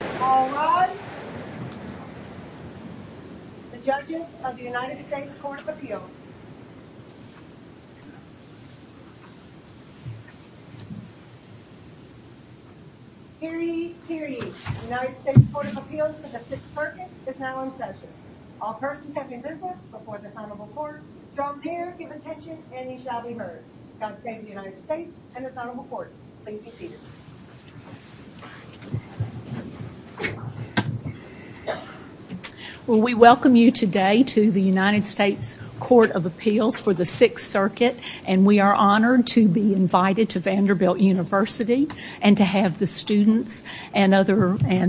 The Judges of the United States Court of Appeal. Hear ye, hear ye. The United States Court of Appeal to Justice Perkins is now in session. All persons have been heard before the Honorable Court. From here, give attention and ye shall be heard. Now the State of the United States and the Honorable Court, please be seated. Well, we welcome you today to the United States Court of Appeals for the Sixth Circuit, and we are honored to be invited to Vanderbilt University, and to have the students and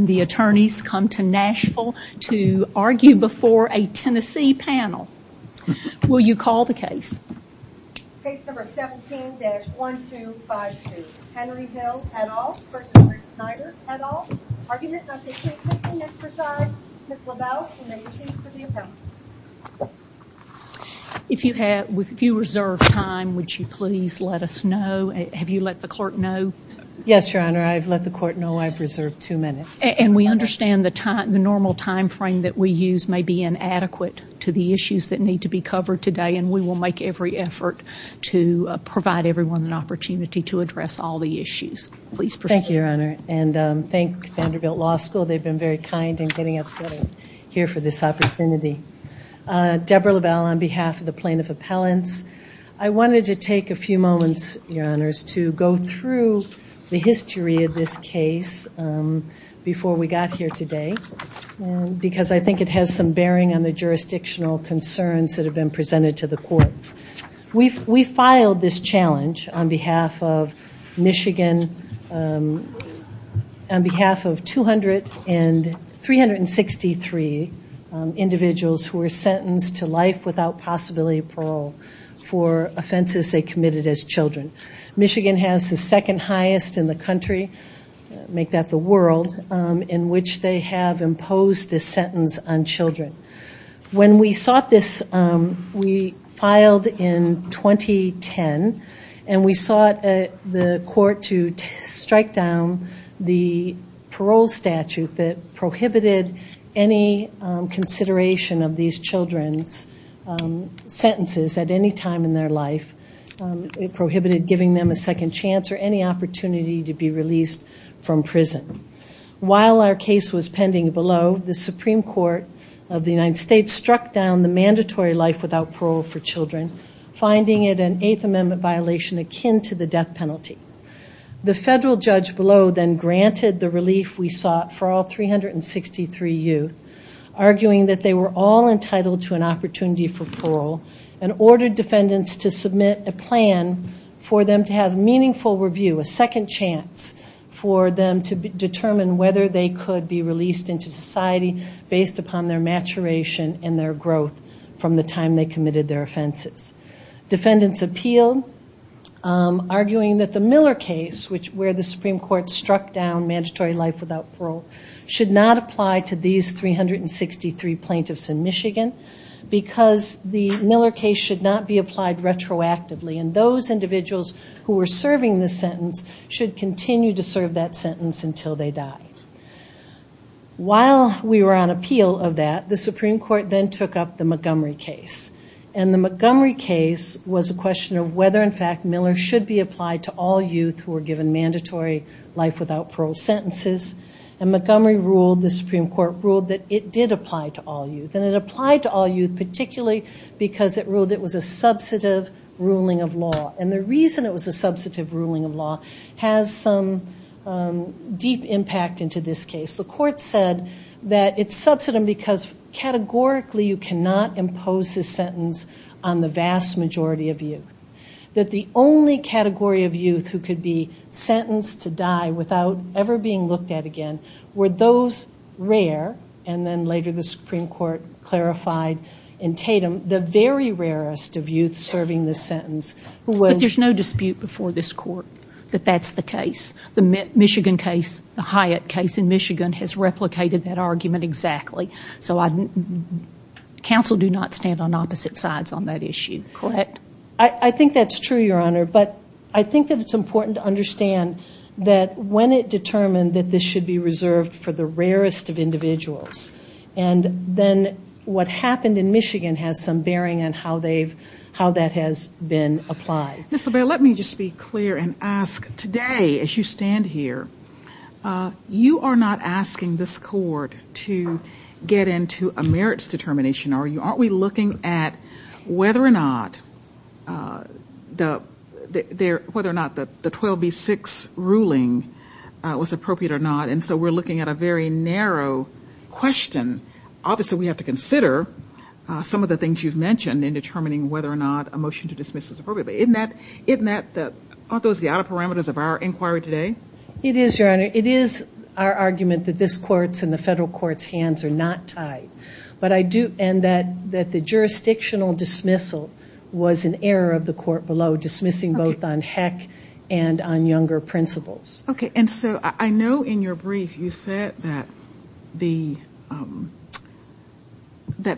the attorneys come to Nashville to argue before a Tennessee panel. Will you call the case? Case number 17-1252, Henry Hill et al. versus Rick Snyder et al. Arguments of the Sixth Circuit exercise. Ms. LaValle, you may proceed to be heard. If you have, if you reserve time, would you please let us know? Have you let the court know? Yes, Your Honor, I have let the court know I have reserved two minutes. And we understand the normal time frame that we use may be inadequate to the issues that need to be covered today, and we will make every effort to provide everyone an opportunity to address all the issues. Thank you, Your Honor, and thank Vanderbilt Law School. They've been very kind in getting us here for this opportunity. Deborah LaValle, on behalf of the plaintiff's appellants, I wanted to take a few moments, Your Honors, to go through the history of this case before we got here today, because I think it has some bearing on the jurisdictional concerns that have been presented to the court. We filed this challenge on behalf of Michigan, on behalf of 263 individuals who were sentenced to life without possibility of parole for offenses they committed as children. Michigan has the second highest in the country, make that the world, in which they have imposed this sentence on children. When we sought this, we filed in 2010, and we sought the court to strike down the parole statute that prohibited any consideration of these children's sentences at any time in their life. It prohibited giving them a second chance or any opportunity to be released from prison. While our case was pending below, the Supreme Court of the United States struck down the mandatory life without parole for children, finding it an Eighth Amendment violation akin to the death penalty. The federal judge below then granted the relief we sought for all 363 youth, arguing that they were all entitled to an opportunity for parole, and ordered defendants to submit a plan for them to have meaningful review, a second chance for them to determine whether they could be released into society based upon their maturation and their growth from the time they committed their offenses. Defendants appealed, arguing that the Miller case, where the Supreme Court struck down mandatory life without parole, should not apply to these 363 plaintiffs in Michigan, because the Miller case should not be applied retroactively, and those individuals who were serving this sentence should continue to serve that sentence until they die. While we were on appeal of that, the Supreme Court then took up the Montgomery case, and the Montgomery case was a question of whether, in fact, Miller should be applied to all youth who were given mandatory life without parole sentences, and Montgomery ruled, the Supreme Court ruled, that it did apply to all youth, and it applied to all youth particularly because it ruled it was a substantive ruling of law, and the reason it was a substantive ruling of law has some deep impact into this case. The court said that it's substantive because categorically you cannot impose this sentence on the vast majority of youth, that the only category of youth who could be sentenced to die without ever being looked at again were those rare, and then later the Supreme Court clarified in Tatum the very rarest of youth serving this sentence. But there's no dispute before this court that that's the case. The Michigan case, the Hyatt case in Michigan, has replicated that argument exactly, so counsel do not stand on opposite sides on that issue, correct? I think that's true, Your Honor, but I think that it's important to understand that when it determined that this should be reserved for the rarest of individuals, and then what happened in Michigan has some bearing on how that has been applied. Ms. O'Byrie, let me just be clear and ask, today as you stand here, you are not asking this court to get into a merits determination, are you? We're looking at whether or not the 12B6 ruling was appropriate or not, and so we're looking at a very narrow question. Obviously, we have to consider some of the things you've mentioned in determining whether or not a motion to dismiss is appropriate, but aren't those the outer parameters of our inquiry today? It is, Your Honor. It is our argument that this court's and the federal court's hands are not tied, and that the jurisdictional dismissal was an error of the court below, dismissing both on Heck and on Younger principles. Okay, and so I know in your brief you said that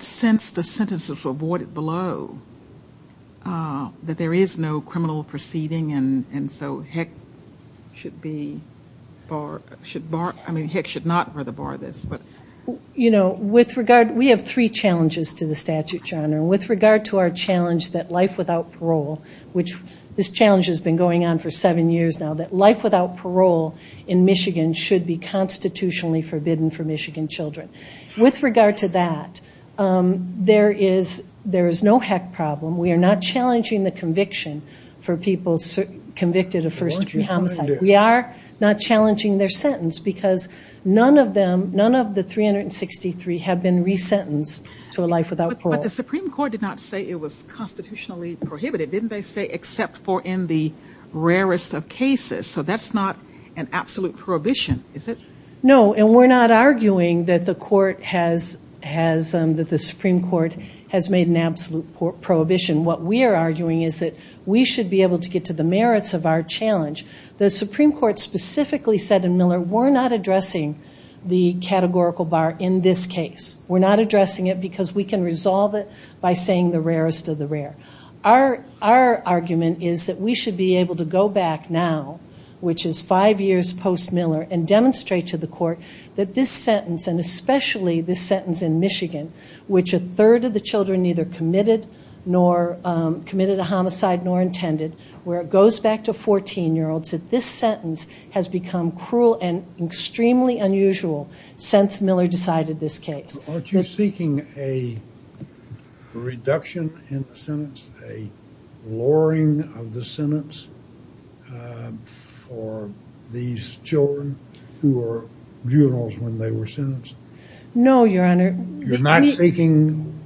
since the sentence is avoided below, that there is no criminal proceeding, and so Heck should not rather bar this. You know, with regard, we have three challenges to the statute, Your Honor. With regard to our challenge that life without parole, which this challenge has been going on for seven years now, that life without parole in Michigan should be constitutionally forbidden for Michigan children. With regard to that, there is no Heck problem. We are not challenging the conviction for people convicted of first degree homicide. We are not challenging their sentence because none of them, none of the 363 have been resentenced to a life without parole. But the Supreme Court did not say it was constitutionally prohibited. Didn't they say except for in the rarest of cases? So that's not an absolute prohibition, is it? No, and we're not arguing that the Supreme Court has made an absolute prohibition. What we are arguing is that we should be able to get to the merits of our challenge. The Supreme Court specifically said in Miller, we're not addressing the categorical bar in this case. We're not addressing it because we can resolve it by saying the rarest of the rare. Our argument is that we should be able to go back now, which is five years post-Miller, and demonstrate to the court that this sentence, and especially this sentence in Michigan, which a third of the children neither committed a homicide nor intended, where it goes back to 14-year-olds, that this sentence has become cruel and extremely unusual since Miller decided this case. Aren't you seeking a reduction in the sentence? A lowering of the sentence for these children who were juveniles when they were sentenced? No, Your Honor. You're not seeking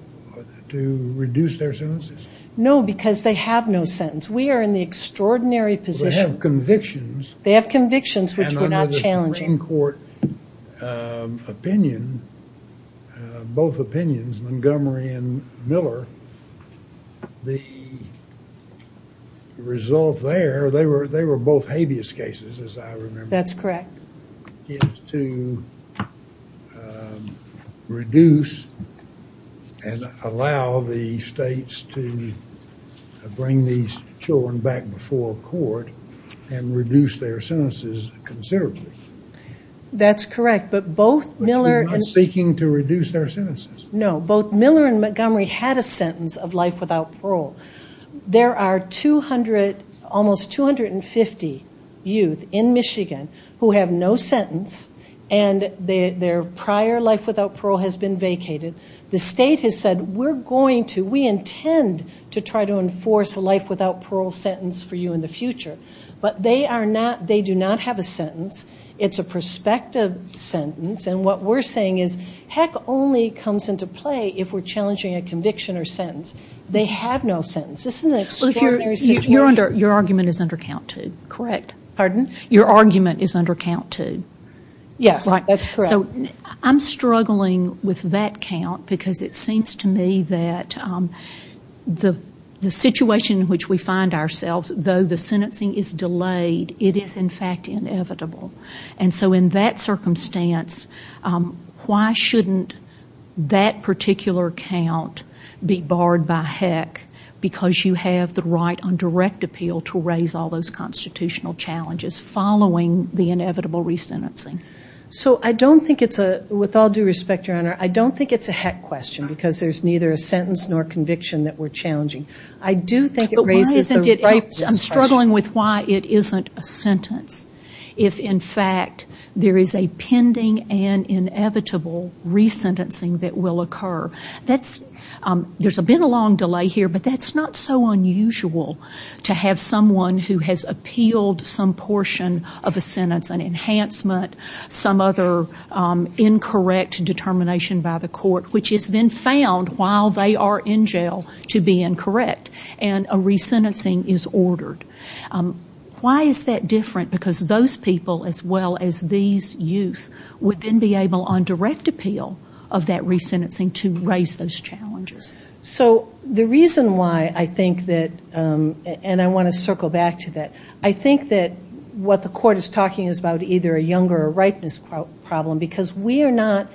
to reduce their sentences? No, because they have no sentence. We are in the extraordinary position. They have convictions. They have convictions, which we're not challenging. And I know the Supreme Court opinion, both opinions, Montgomery and Miller, the result there, they were both habeas cases, as I remember. That's correct. To reduce and allow the states to bring these children back before court and reduce their sentences considerably. That's correct, but both Miller and Montgomery had a sentence of life without parole. There are almost 250 youth in Michigan who have no sentence, and their prior life without parole has been vacated. The state has said, we're going to, we intend to try to enforce a life without parole sentence for you in the future. But they do not have a sentence. It's a prospective sentence, and what we're saying is, heck only comes into play if we're challenging a conviction or sentence. They have no sentence, isn't it? Your argument is under count, too. Correct. Pardon? Your argument is under count, too. Yes, that's correct. I'm struggling with that count because it seems to me that the situation in which we find ourselves, though the sentencing is delayed, it is in fact inevitable. And so in that circumstance, why shouldn't that particular count be barred by heck because you have the right on direct appeal to raise all those constitutional challenges following the inevitable resentencing? So I don't think it's a, with all due respect, Your Honor, I don't think it's a heck question because there's neither a sentence nor conviction that we're challenging. But why isn't it, I'm struggling with why it isn't a sentence if in fact there is a pending and inevitable resentencing that will occur. There's been a long delay here, but that's not so unusual to have someone who has appealed some portion of a sentence, an enhancement, some other incorrect determination by the court, which has been found while they are in jail to be incorrect, and a resentencing is ordered. Why is that different? Because those people as well as these youth would then be able on direct appeal of that resentencing to raise those challenges. So the reason why I think that, and I want to circle back to that, I think that what the court is talking is about either a younger or ripeness problem because we are not,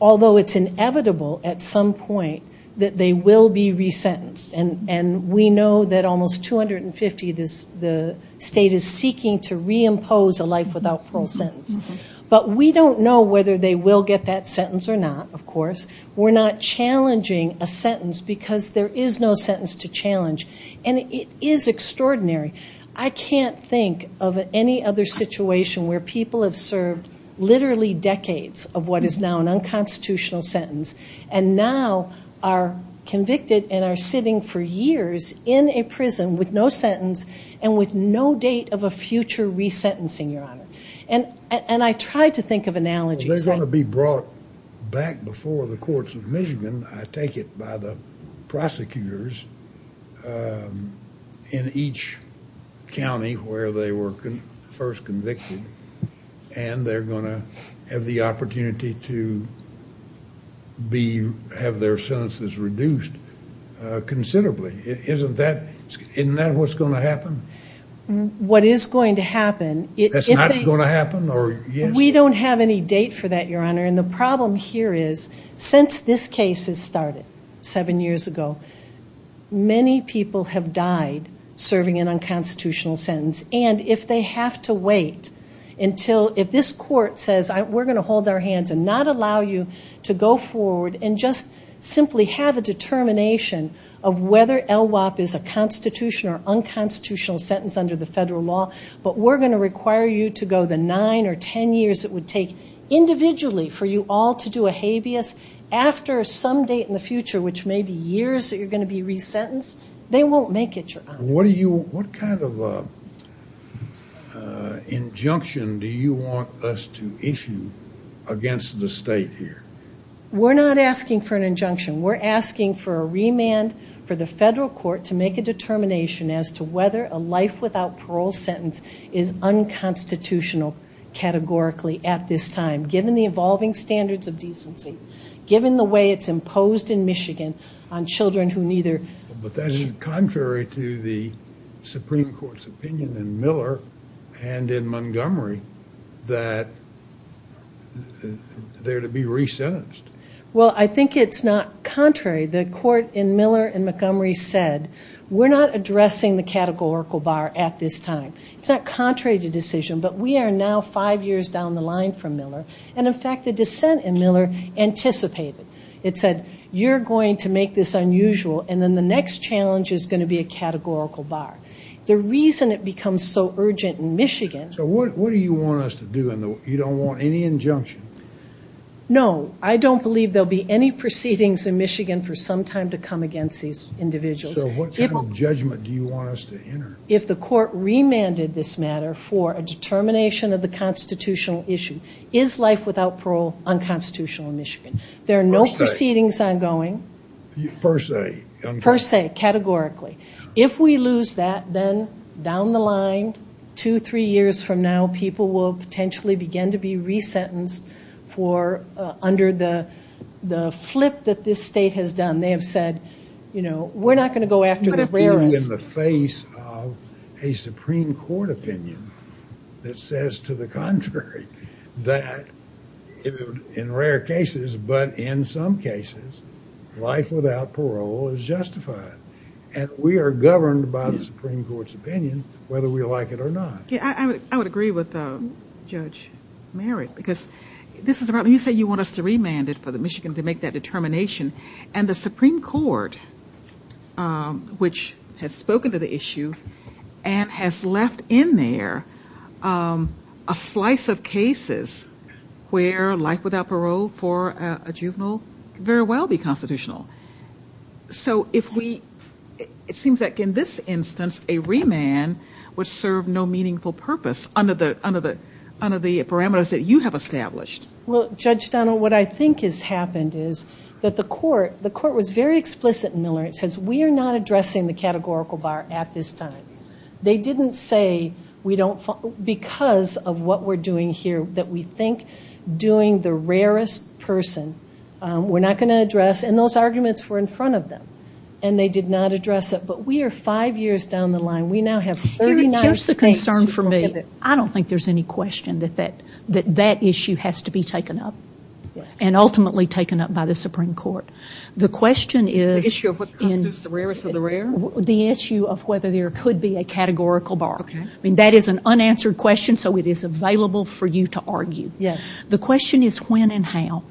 although it's inevitable at some point that they will be resentenced. And we know that almost 250, the state is seeking to reimpose a life without full sentence. But we don't know whether they will get that sentence or not, of course. We're not challenging a sentence because there is no sentence to challenge. And it is extraordinary. I can't think of any other situation where people have served literally decades of what is now an unconstitutional sentence and now are convicted and are sitting for years in a prison with no sentence and with no date of a future resentencing, Your Honor. And I try to think of analogies. They're going to be brought back before the courts of measurement, I take it, by the prosecutors in each county where they were first convicted. And they're going to have the opportunity to have their sentences reduced considerably. Isn't that what's going to happen? What is going to happen? That's not going to happen? And the problem here is since this case has started seven years ago, many people have died serving an unconstitutional sentence. And if they have to wait until, if this court says, we're going to hold our hands and not allow you to go forward and just simply have a determination of whether ELWOP is a constitutional or unconstitutional sentence under the federal law, but we're going to require you to go the nine or ten years it would take individually for you all to do a habeas after some date in the future, which may be years that you're going to be resentenced, they won't make it, Your Honor. What kind of injunction do you want us to issue against the state here? We're not asking for an injunction. We're asking for a remand for the federal court to make a determination as to whether a life without parole sentence is unconstitutional categorically at this time, given the evolving standards of decency, given the way it's imposed in Michigan on children who neither. But that is contrary to the Supreme Court's opinion in Miller and in Montgomery that they're to be resentenced. Well, I think it's not contrary. The court in Miller and Montgomery said we're not addressing the categorical bar at this time. It's not contrary to the decision, but we are now five years down the line from Miller, and in fact the dissent in Miller anticipated. It said you're going to make this unusual, and then the next challenge is going to be a categorical bar. The reason it becomes so urgent in Michigan. So what do you want us to do? You don't want any injunction? No, I don't believe there will be any proceedings in Michigan for some time to come against these individuals. So what kind of judgment do you want us to enter? If the court remanded this matter for a determination of a constitutional issue, is life without parole unconstitutional in Michigan? There are no proceedings ongoing. Per se? Per se, categorically. If we lose that, then down the line, two, three years from now, people will potentially begin to be resentenced for under the flip that this state has done. They have said, you know, we're not going to go after the rarest. In the face of a Supreme Court opinion that says to the contrary that in rare cases, but in some cases, life without parole is justified, and we are governed by the Supreme Court's opinion whether we like it or not. I would agree with Judge Merritt because this is about, let me say you want us to remand it for Michigan to make that determination, and the Supreme Court, which has spoken to the issue, and has left in there a slice of cases where life without parole for a juvenile could very well be constitutional. So if we, it seems like in this instance, a remand would serve no meaningful purpose under the parameters that you have established. Well, Judge Donnell, what I think has happened is that the court, the court was very explicit in the law. It says we are not addressing the categorical bar at this time. They didn't say because of what we're doing here that we think doing the rarest person, we're not going to address, and those arguments were in front of them, and they did not address it. But we are five years down the line. We now have 39 cases. Here's the concern for me. I don't think there's any question that that issue has to be taken up, and ultimately taken up by the Supreme Court. The issue of what constitutes the rarest of the rare? The issue of whether there could be a categorical bar. That is an unanswered question, so it is available for you to argue. Yes. The question is when and how.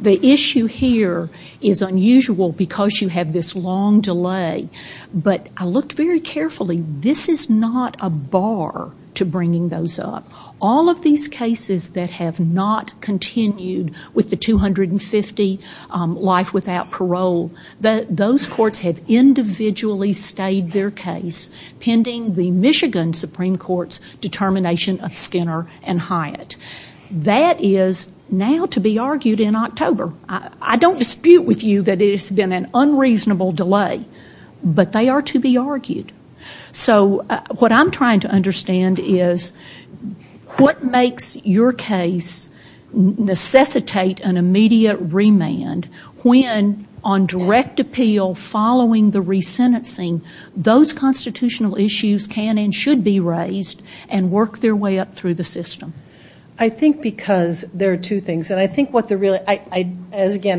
The issue here is unusual because you have this long delay, but I looked very carefully. This is not a bar to bringing those up. All of these cases that have not continued with the 250 life without parole, those courts have individually stayed their case pending the Michigan Supreme Court's determination of Skinner and Hyatt. That is now to be argued in October. I don't dispute with you that it's been an unreasonable delay, but they are to be argued. So what I'm trying to understand is what makes your case necessitate an immediate remand when on direct appeal following the resentencing, those constitutional issues can and should be raised and work their way up through the system. I think because there are two things. Again,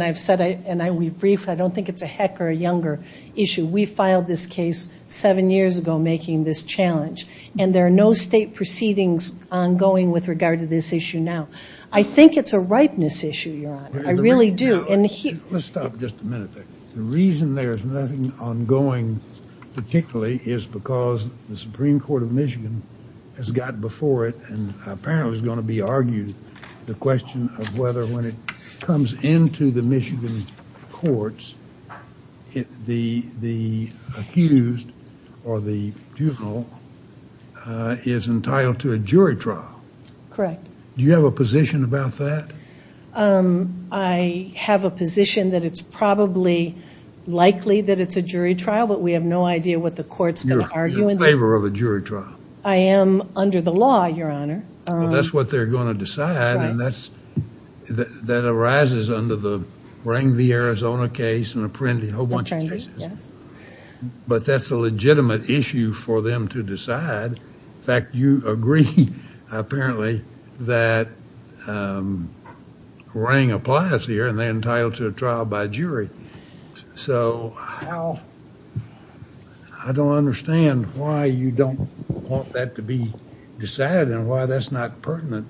I've said it and I will be brief. I don't think it's a heck or a younger issue. We filed this case seven years ago making this challenge, and there are no state proceedings ongoing with regard to this issue now. I think it's a ripeness issue, Your Honor. I really do. Let's stop just a minute. The reason there is nothing ongoing particularly is because the Supreme Court of Michigan has got before it and apparently is going to be argued the question of whether when it comes into the Michigan courts, the accused or the juvenile is entitled to a jury trial. Correct. Do you have a position about that? I have a position that it's probably likely that it's a jury trial, but we have no idea what the court's going to argue. You're in favor of a jury trial. I am under the law, Your Honor. Well, that's what they're going to decide, and that arises under the Rangley, Arizona case and a whole bunch of cases. But that's a legitimate issue for them to decide. In fact, you agree apparently that Rang applies here and they're entitled to a trial by jury. So I don't understand why you don't want that to be decided and why that's not pertinent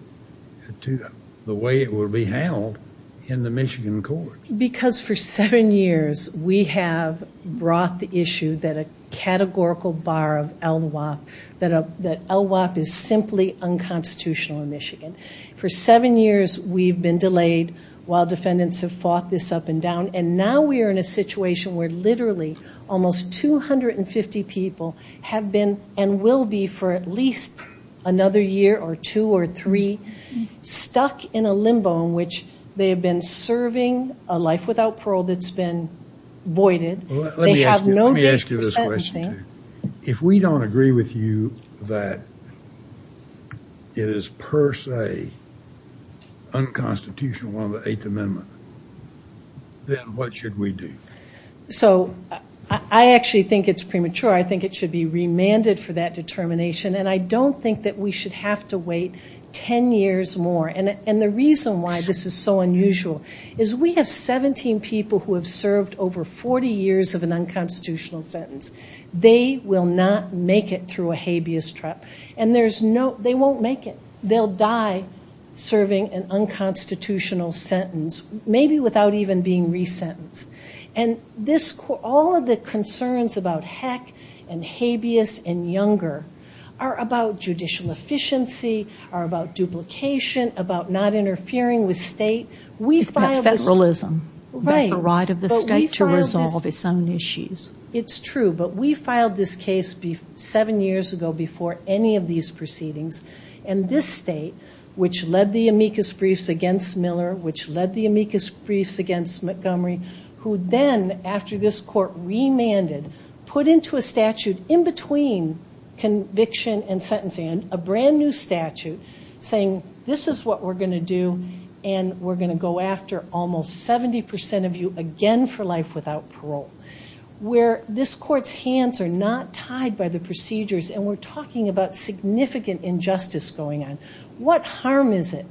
to the way it will be handled in the Michigan courts. Because for seven years we have brought the issue that a categorical bar of LWAP, that LWAP is simply unconstitutional in Michigan. For seven years we've been delayed while defendants have fought this up and down, and now we are in a situation where literally almost 250 people have been and will be for at least another year or two or three stuck in a limbo in which they have been serving a life without parole that's been voided. Let me ask you this question. If we don't agree with you that it is per se unconstitutional under the Eighth Amendment, then what should we do? So I actually think it's premature. I think it should be remanded for that determination, and I don't think that we should have to wait ten years more. And the reason why this is so unusual is we have 17 people who have served over 40 years of an unconstitutional sentence. They will not make it through a habeas trial, and they won't make it. They'll die serving an unconstitutional sentence, maybe without even being resentenced. And all of the concerns about heck and habeas and younger are about judicial efficiency, are about duplication, about not interfering with state. It's not federalism. It's the right of the state to resolve its own issues. It's true, but we filed this case seven years ago before any of these proceedings, and this state, which led the amicus briefs against Miller, which led the amicus briefs against Montgomery, who then, after this court remanded, put into a statute in between conviction and sentencing and a brand-new statute saying this is what we're going to do, and we're going to go after almost 70% of you again for life without parole, where this court's hands are not tied by the procedures, and we're talking about significant injustice going on. What harm is it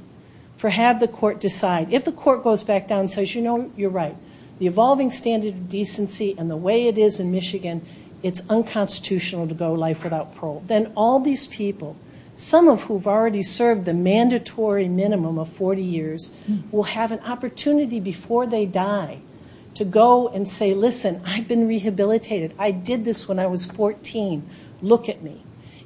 for having the court decide? If the court goes back down and says, you know, you're right, the evolving standard of decency and the way it is in Michigan, it's unconstitutional to go life without parole, then all these people, some of whom have already served the mandatory minimum of 40 years, will have an opportunity before they die to go and say, listen, I've been rehabilitated. I did this when I was 14. Look at me.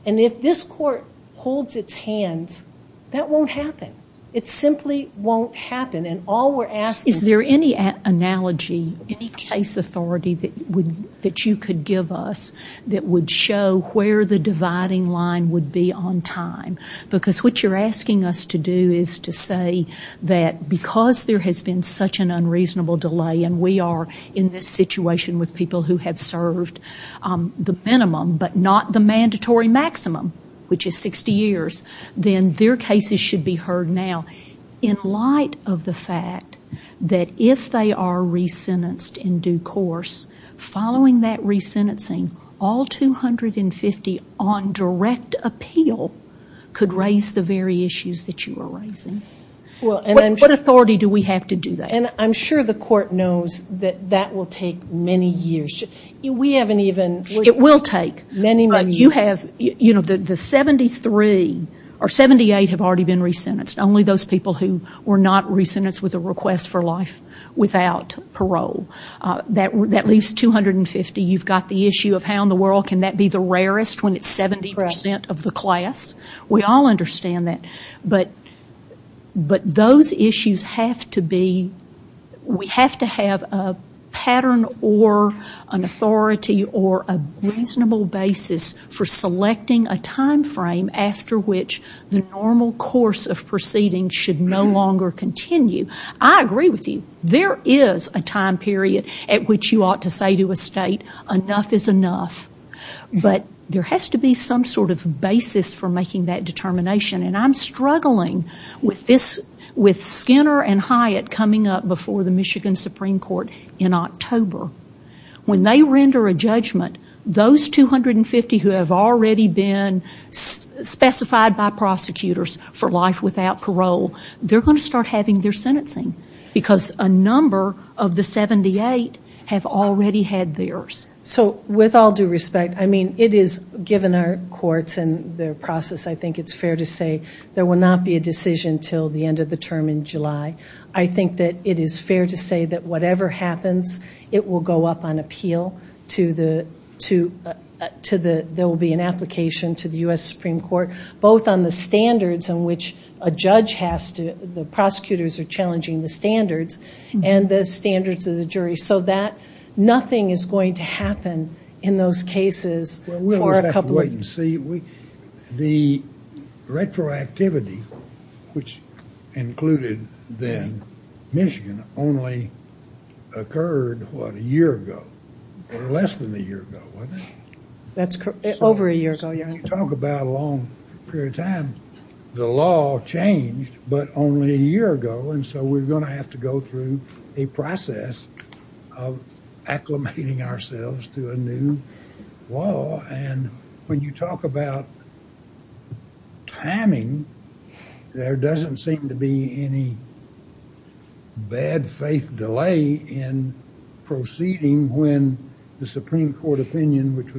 And if this court holds its hands, that won't happen. It simply won't happen. And all we're asking is there any analogy, any case authority that you could give us that would show where the dividing line would be on time, because what you're asking us to do is to say that because there has been such an unreasonable delay, and we are in this situation with people who have served the minimum but not the mandatory maximum, which is 60 years, then their cases should be heard now, in light of the fact that if they are resentenced in due course, following that resentencing, all 250 on direct appeal could raise the very issues that you are raising. What authority do we have to do that? And I'm sure the court knows that that will take many years. We haven't even... It will take. Many, many years. You have, you know, the 73 or 78 have already been resentenced, only those people who were not resentenced with a request for life without parole. That leaves 250. You've got the issue of how in the world can that be the rarest when it's 70% of the class. We all understand that. But those issues have to be... We have to have a pattern or an authority or a reasonable basis for selecting a time frame after which the normal course of proceedings should no longer continue. I agree with you. There is a time period at which you ought to say to a state, enough is enough. But there has to be some sort of basis for making that determination. And I'm struggling with Skinner and Hyatt coming up before the Michigan Supreme Court in October. When they render a judgment, those 250 who have already been specified by prosecutors for life without parole, they're going to start having their sentencing because a number of the 78 have already had theirs. So with all due respect, I mean, it is given our courts and their process, I think it's fair to say there will not be a decision until the end of the term in July. I think that it is fair to say that whatever happens, it will go up on appeal to the... The prosecutors are challenging the standards and the standards of the jury. So nothing is going to happen in those cases for a couple of... We'll have to wait and see. The retroactivity, which included then Michigan, only occurred, what, a year ago or less than a year ago, wasn't it? That's correct. Over a year ago, yes. When you talk about a long period of time, the law changed, but only a year ago. And so we're going to have to go through a process of acclimating ourselves to a new law. And when you talk about timing, there doesn't seem to be any bad faith delay in proceeding when the Supreme Court opinion, which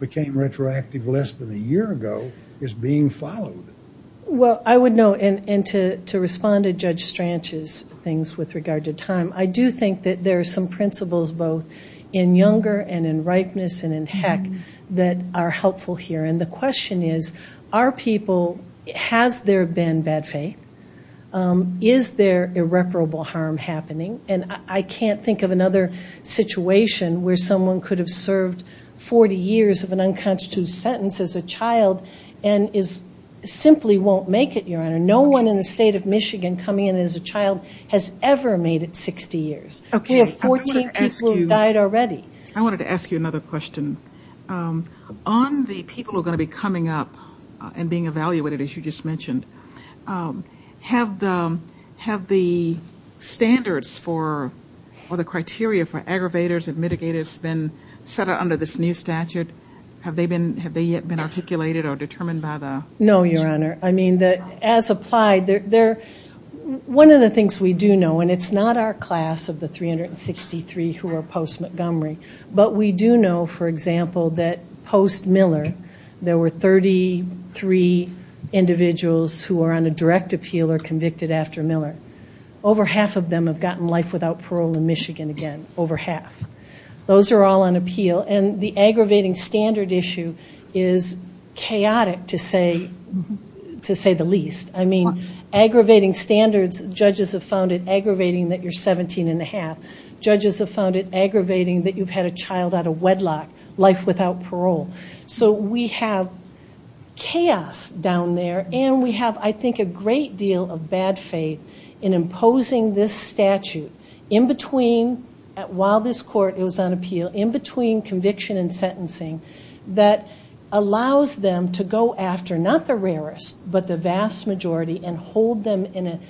became retroactive less than a year ago, is being followed. Well, I would note, and to respond to Judge Stranch's things with regard to time, I do think that there are some principles both in Younger and in Ripeness and in Heck that are helpful here. And the question is, are people... Has there been bad faith? Is there irreparable harm happening? And I can't think of another situation where someone could have served 40 years of an unconstituted sentence as a child and simply won't make it, Your Honor. No one in the state of Michigan coming in as a child has ever made it 60 years. We have 48 people who have died already. I wanted to ask you another question. On the people who are going to be coming up and being evaluated, as you just mentioned, have the standards or the criteria for aggravators and mitigators been set out under this new statute? Have they yet been articulated or determined by the... No, Your Honor. I mean, as applied, one of the things we do know, and it's not our class of the 363 who are post-Montgomery, but we do know, for example, that post-Miller, there were 33 individuals who are on a direct appeal or convicted after Miller. Over half of them have gotten life without parole in Michigan again, over half. Those are all on appeal. And the aggravating standard issue is chaotic, to say the least. I mean, aggravating standards, judges have found it aggravating that you're 17 1⁄2. Judges have found it aggravating that you've had a child out of wedlock, life without parole. So we have chaos down there, and we have, I think, a great deal of bad faith in imposing this statute in between, while this court was on appeal, in between conviction and sentencing, that allows them to go after not the rarest, but the vast majority, and hold them in a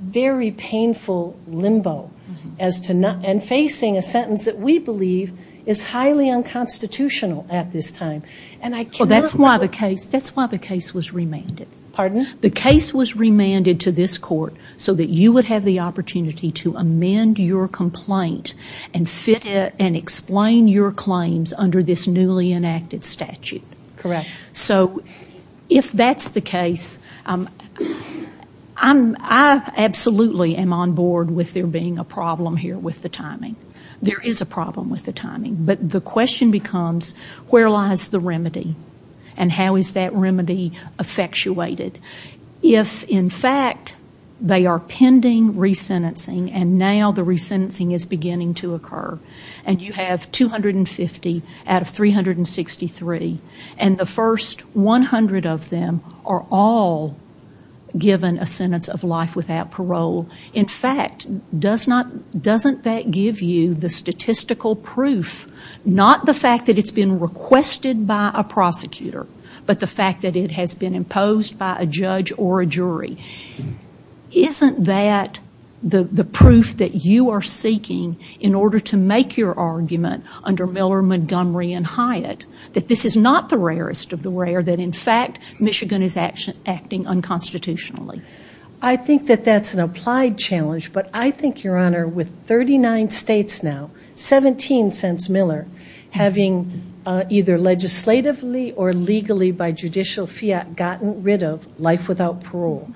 very painful limbo, and facing a sentence that we believe is highly unconstitutional at this time. Well, that's why the case was remanded. Pardon? The case was remanded to this court so that you would have the opportunity to amend your complaint and explain your claims under this newly enacted statute. Correct. So if that's the case, I absolutely am on board with there being a problem here with the timing. There is a problem with the timing. But the question becomes, where lies the remedy, and how is that remedy effectuated? If, in fact, they are pending resentencing, and now the resentencing is beginning to occur, and you have 250 out of 363, and the first 100 of them are all given a sentence of life without parole, in fact, doesn't that give you the statistical proof, not the fact that it's been requested by a prosecutor, but the fact that it has been imposed by a judge or a jury? Isn't that the proof that you are seeking in order to make your argument under Miller, Montgomery, and Hyatt, that this is not the rarest of the rare, that, in fact, Michigan is acting unconstitutionally? I think that that's an applied challenge, but I think, Your Honor, with 39 states now, 17 since Miller, having either legislatively or legally by judicial fiat gotten rid of life without parole,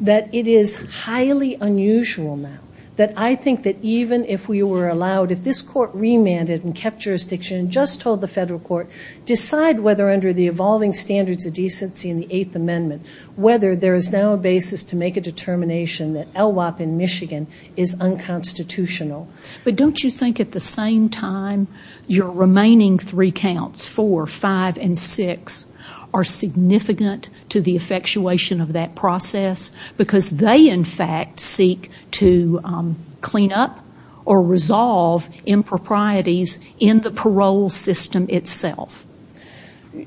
that it is highly unusual now that I think that even if we were allowed, if this court remanded and kept jurisdiction and just told the federal court, decide whether under the evolving standards of decency in the Eighth Amendment, whether there is now a basis to make a determination that LWOP in Michigan is unconstitutional. But don't you think at the same time your remaining three counts, four, five, and six, are significant to the effectuation of that process? Because they, in fact, seek to clean up or resolve improprieties in the parole system itself.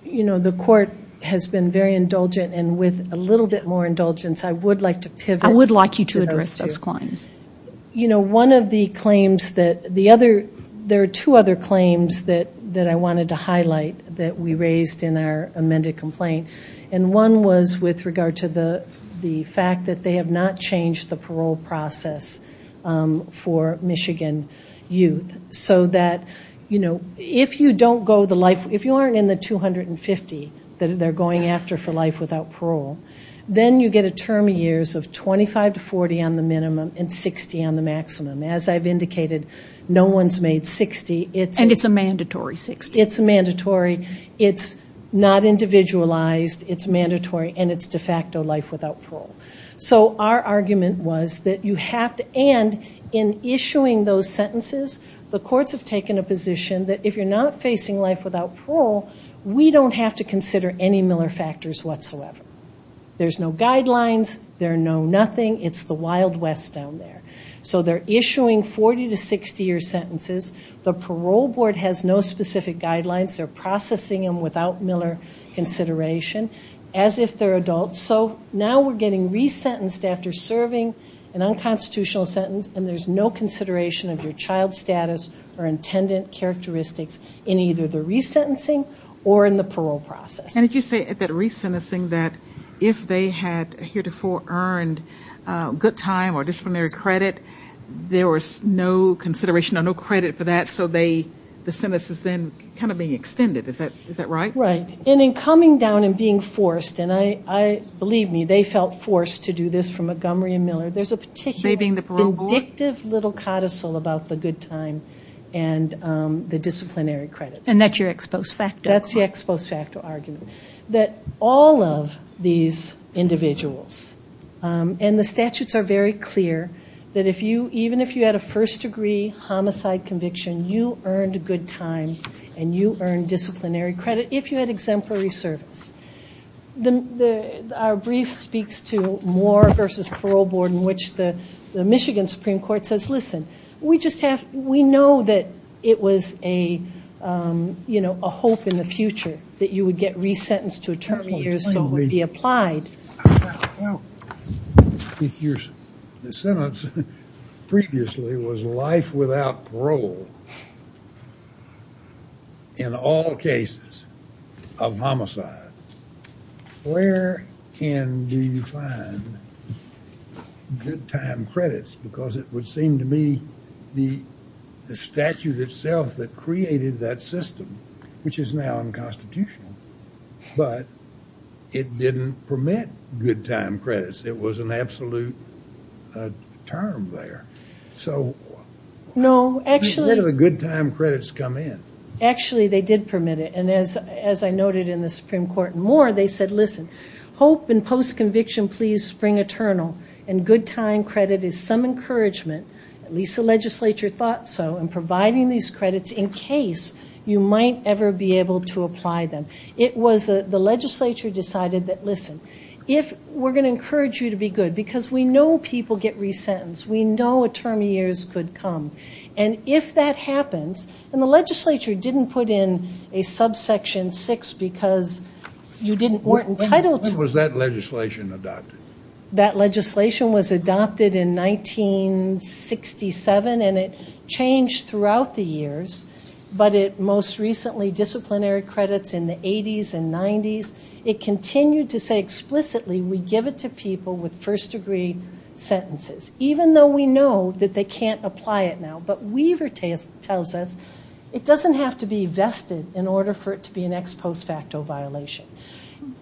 You know, the court has been very indulgent, and with a little bit more indulgence, I would like to pivot. I would like you to address those claims. You know, one of the claims that the other, there are two other claims that I wanted to highlight that we raised in our amended complaint. And one was with regard to the fact that they have not changed the parole process for Michigan youth. So that, you know, if you don't go the life, if you aren't in the 250 that they're going after for life without parole, then you get a term of years of 25 to 40 on the minimum and 60 on the maximum. As I've indicated, no one's made 60. And it's a mandatory 60. It's a mandatory. It's not individualized. It's mandatory. And it's de facto life without parole. So our argument was that you have to, and in issuing those sentences, the court has taken a position that if you're not facing life without parole, we don't have to consider any Miller factors whatsoever. There's no guidelines. There are no nothing. It's the Wild West down there. So they're issuing 40 to 60-year sentences. The parole board has no specific guidelines. They're processing them without Miller consideration, as if they're adults. So now we're getting resentenced after serving an unconstitutional sentence, and there's no consideration of your child's status or intended characteristics in either the resentencing or in the parole process. And did you say at that resentencing that if they had heretofore earned good time or disciplinary credit, there was no consideration or no credit for that, so the sentence is then kind of being extended. Is that right? Right. And in coming down and being forced, and believe me, they felt forced to do this for Montgomery and Miller. There's a particular addictive little codicil about the good time and the disciplinary credit. And that's your ex post facto. That's the ex post facto argument, that all of these individuals, and the statutes are very clear that even if you had a first-degree homicide conviction, you earned good time and you earned disciplinary credit if you had exemplary service. Our brief speaks to Moore v. Parole Board in which the Michigan Supreme Court says, listen, we know that it was a hope in the future that you would get resentenced to a term of years so it would be applied. I think your sentence previously was life without parole in all cases of homicides. Where can you find good time credits? Because it would seem to me the statute itself that created that system, which is now unconstitutional, but it didn't permit good time credits. It was an absolute term there. So where do the good time credits come in? Actually, they did permit it. And as I noted in the Supreme Court in Moore, they said, listen, hope and post-conviction please spring eternal. And good time credit is some encouragement, at least the legislature thought so, in providing these credits in case you might ever be able to apply them. The legislature decided that, listen, we're going to encourage you to be good because we know people get resentenced. We know a term of years could come. And if that happens, and the legislature didn't put in a subsection 6 because you weren't entitled to it. When was that legislation adopted? That legislation was adopted in 1967, and it changed throughout the years. But it most recently disciplinary credits in the 80s and 90s. It continued to say explicitly we give it to people with first-degree sentences, even though we know that they can't apply it now. But Weaver tells us it doesn't have to be vested in order for it to be an ex post facto violation.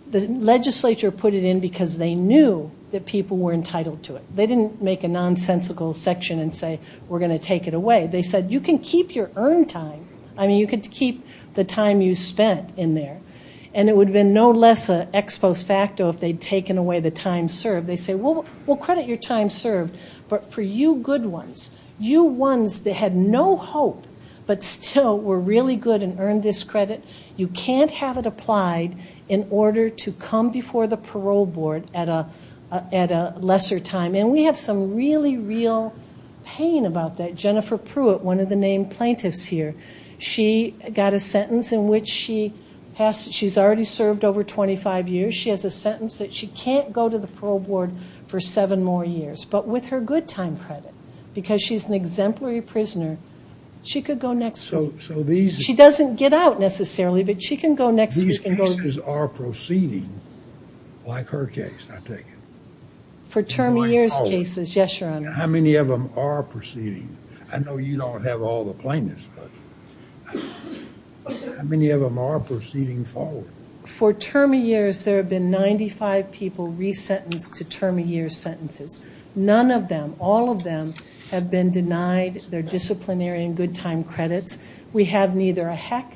The legislature put it in because they knew that people were entitled to it. They didn't make a nonsensical section and say we're going to take it away. They said you can keep your earned time. I mean, you can keep the time you spent in there. And it would have been no less an ex post facto if they'd taken away the time served. They say, well, credit your time served. But for you good ones, you ones that had no hope but still were really good and earned this credit, you can't have it applied in order to come before the parole board at a lesser time. And we have some really real pain about that. Jennifer Pruitt, one of the main plaintiffs here, she got a sentence in which she's already served over 25 years. She has a sentence that she can't go to the parole board for seven more years. But with her good time credit, because she's an exemplary prisoner, she could go next. She doesn't get out necessarily, but she can go next. These cases are proceeding like her case, I take it. For term of years cases, yes, Your Honor. How many of them are proceeding? I know you don't have all the plaintiffs, but how many of them are proceeding forward? For term of years, there have been 95 people resentenced to term of years sentences. None of them, all of them, have been denied their disciplinary and good time credits. We have neither a heck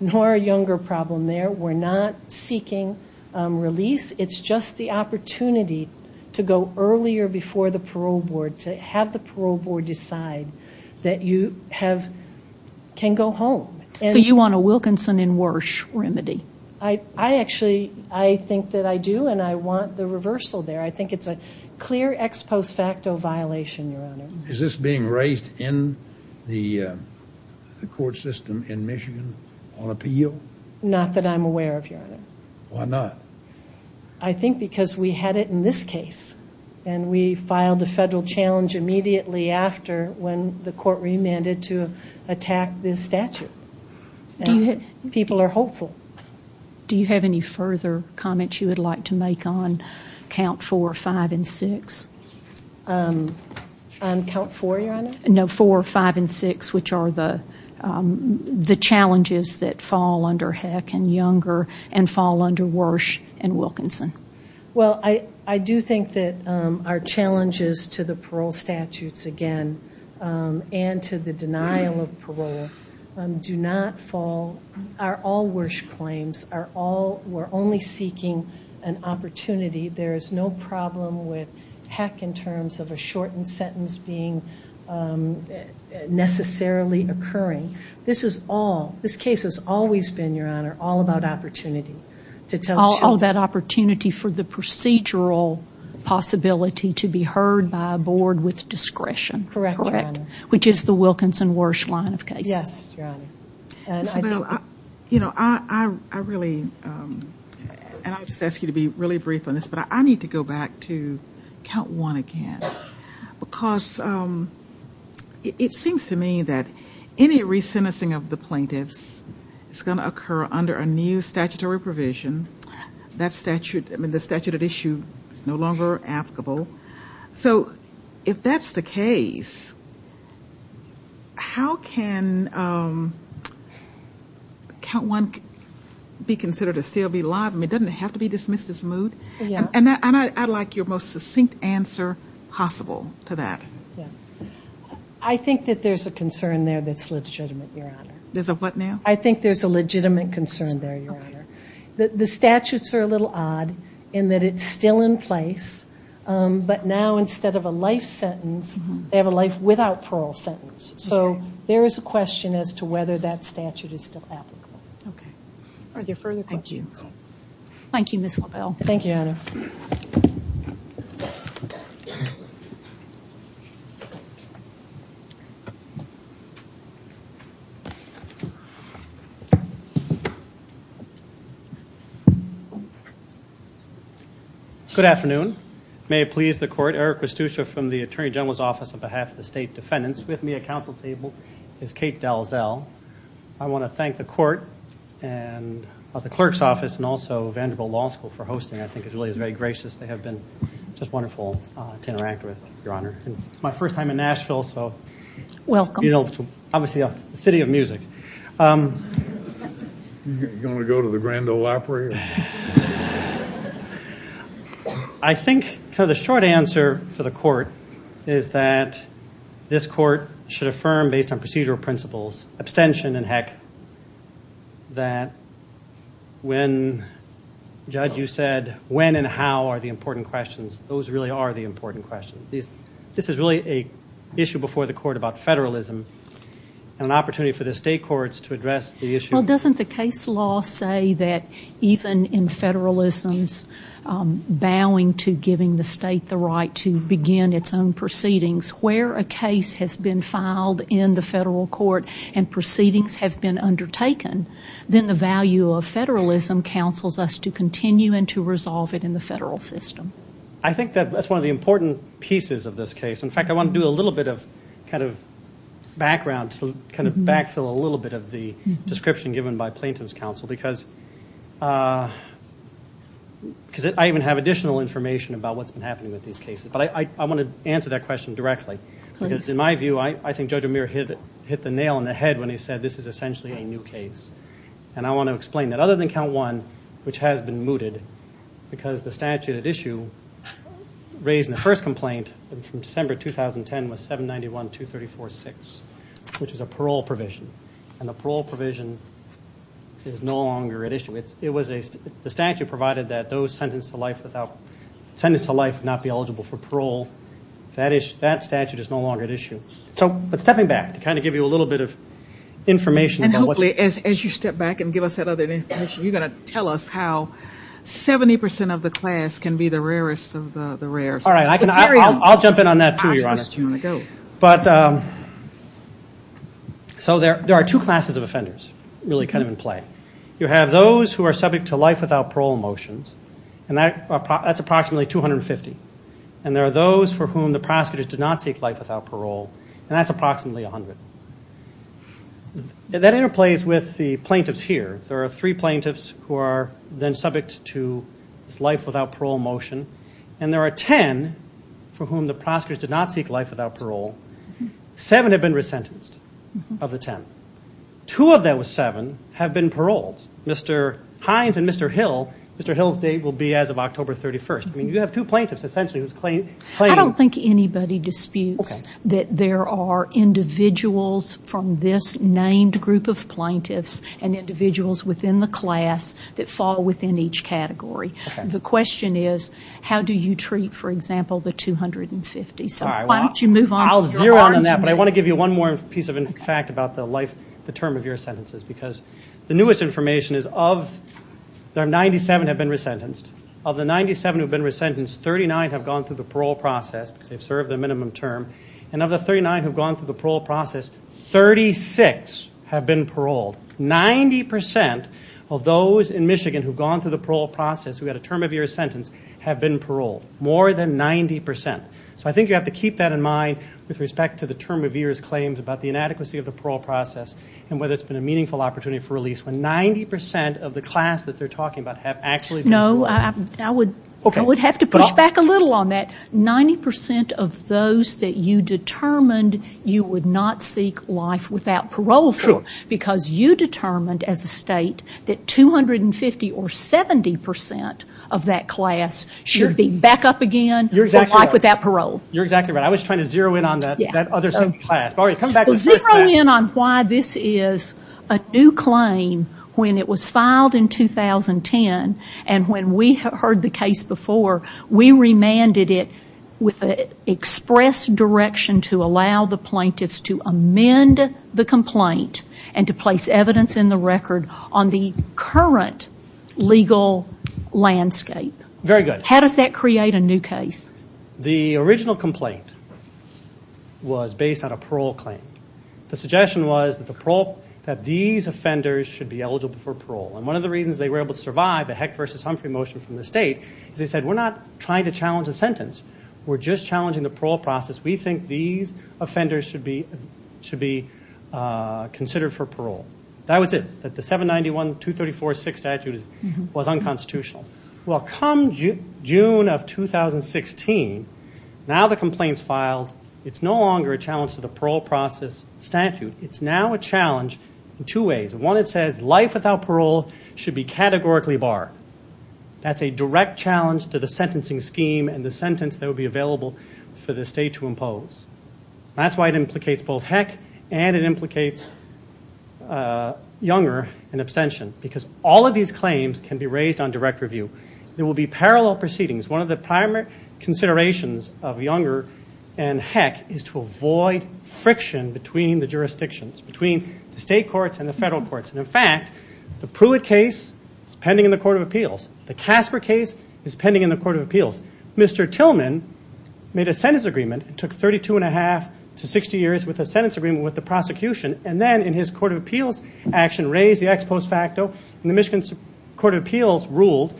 nor a younger problem there. We're not seeking release. It's just the opportunity to go earlier before the parole board, to have the parole board decide that you can go home. So you want a Wilkinson and Warsh remedy? I actually think that I do, and I want the reversal there. I think it's a clear ex post facto violation, Your Honor. Is this being raised in the court system in Michigan on appeal? Not that I'm aware of, Your Honor. Why not? I think because we had it in this case, and we filed a federal challenge immediately after when the court remanded to attack this statute. People are hopeful. Do you have any further comments you would like to make on count 4, 5, and 6? On count 4, Your Honor? No, 4, 5, and 6, which are the challenges that fall under heck and younger and fall under Warsh and Wilkinson. Well, I do think that our challenges to the parole statutes, again, and to the denial of parole are all Warsh claims. We're only seeking an opportunity. There is no problem with heck in terms of a shortened sentence being necessarily occurring. This case has always been, Your Honor, all about opportunity. All that opportunity for the procedural possibility to be heard by a board with discretion. Correct, Your Honor. Which is the Wilkinson-Warsh line of cases. Yes, Your Honor. Isabelle, you know, I really ask you to be really brief on this, but I need to go back to count 1 again, because it seems to me that any re-sentencing of the plaintiffs is going to occur under a new statutory provision. The statute of issue is no longer applicable. So if that's the case, how can count 1 be considered a CLB law? I mean, doesn't it have to be dismissed as moot? Yes. And I'd like your most succinct answer possible to that. I think that there's a concern there that's legitimate, Your Honor. There's a what now? I think there's a legitimate concern there, Your Honor. The statutes are a little odd in that it's still in place, but now instead of a life sentence they have a life without parole sentence. So there is a question as to whether that statute is still applicable. Okay. Are there further questions? Thank you, Ms. Lyle. Thank you, Your Honor. Good afternoon. May it please the court, Eric Costuccio from the Attorney General's Office on behalf of the State Defendants. With me at council table is Kate Dalzell. I want to thank the court and the clerk's office and also Vanderbilt Law School for hosting. I think it really is very gracious. They have been just wonderful to interact with, Your Honor. It's my first time in Nashville, so it's obviously a city of music. You want to go to the Grand Ole Opry? I think the short answer for the court is that this court should affirm based on procedural principles, abstention and heck, that when, Judge, you said when and how are the important questions. Those really are the important questions. This is really an issue before the court about federalism and an opportunity for the state courts to address the issue. Well, doesn't the case law say that even in federalism, bowing to giving the state the right to begin its own proceedings, where a case has been filed in the federal court and proceedings have been undertaken, then the value of federalism counsels us to continue and to resolve it in the federal system. I think that's one of the important pieces of this case. In fact, I want to do a little bit of background, backfill a little bit of the description given by plaintiff's counsel because I even have additional information about what's been happening with these cases. I want to answer that question directly. In my view, I think Judge O'Meara hit the nail on the head when he said this is essentially a new case. I want to explain that. Other than Count 1, which has been mooted because the statute of issue raised in the first complaint from December 2010 was 791-234-6, which is a parole provision. And the parole provision is no longer at issue. The statute provided that those sentenced to life would not be eligible for parole. That statute is no longer at issue. So, stepping back to kind of give you a little bit of information. And hopefully, as you step back and give us that other information, you're going to tell us how 70% of the class can be the rarest of the rare. All right, I'll jump in on that for you, Ron. But, so there are two classes of offenders really kind of in play. You have those who are subject to life without parole motions, and that's approximately 250. And there are those for whom the prosecutor did not take life without parole, and that's approximately 100. And that interplays with the plaintiffs here. There are three plaintiffs who are then subject to life without parole motion. And there are ten for whom the prosecutors did not seek life without parole. Seven have been resentenced of the ten. Two of those seven have been paroled. Mr. Hines and Mr. Hill, Mr. Hill's date will be as of October 31st. I mean, you have two plaintiffs essentially who claim. I don't think anybody disputes that there are individuals from this named group of plaintiffs and individuals within the class that fall within each category. The question is, how do you treat, for example, the 250? Why don't you move on? I'll zero in on that, but I want to give you one more piece of fact about the term of your sentences because the newest information is of the 97 who have been resentenced, of the 97 who have been resentenced, 39 have gone through the parole process. They've served their minimum term. And of the 39 who have gone through the parole process, 36 have been paroled. Ninety percent of those in Michigan who have gone through the parole process who had a term of years sentence have been paroled, more than 90%. So I think you have to keep that in mind with respect to the term of years claims about the inadequacy of the parole process and whether it's been a meaningful opportunity for release when 90% of the class that they're talking about have actually been paroled. No, I would have to push back a little on that. Ninety percent of those that you determined you would not seek life without parole through because you determined as a state that 250 or 70% of that class should be back up again for life without parole. You're exactly right. I was trying to zero in on that other class. Zero in on why this is a new claim when it was filed in 2010 and when we heard the case before, we remanded it with an express direction to allow the plaintiffs to amend the complaint and to place evidence in the record on the current legal landscape. Very good. How does that create a new case? The original complaint was based on a parole claim. The suggestion was that these offenders should be eligible for parole and one of the reasons they were able to survive the Hecht v. Humphrey motion from the state is they said we're not trying to challenge a sentence. We're just challenging the parole process. We think these offenders should be considered for parole. That was it. The 791-234-6 statute was unconstitutional. Well, come June of 2016, now the complaint's filed. It's no longer a challenge to the parole process statute. It's now a challenge in two ways. One, it says life without parole should be categorically barred. That's a direct challenge to the sentencing scheme and the sentence that will be available for the state to impose. That's why it implicates both Hecht and it implicates Younger in abstention because all of these claims can be raised on direct review. There will be parallel proceedings. One of the primary considerations of Younger and Hecht is to avoid friction between the jurisdictions, between the state courts and the federal courts, and, in fact, the Pruitt case is pending in the Court of Appeals. The Tasker case is pending in the Court of Appeals. Mr. Tillman made a sentence agreement. It took 32 1⁄2 to 60 years with a sentence agreement with the prosecution, and then in his Court of Appeals action raised the ex post facto, and the Michigan Court of Appeals ruled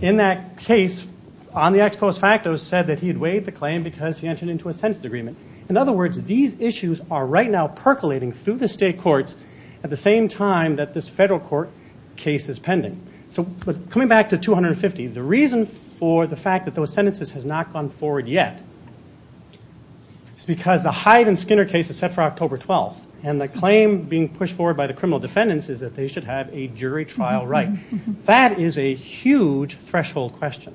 in that case on the ex post facto said that he had waived the claim because he entered into a sentence agreement. In other words, these issues are right now percolating through the state courts at the same time that this federal court case is pending. So coming back to 250, the reason for the fact that those sentences have not gone forward yet is because the Hyde and Skinner case is set for October 12th, and the claim being pushed forward by the criminal defendants is that they should have a jury trial right. That is a huge threshold question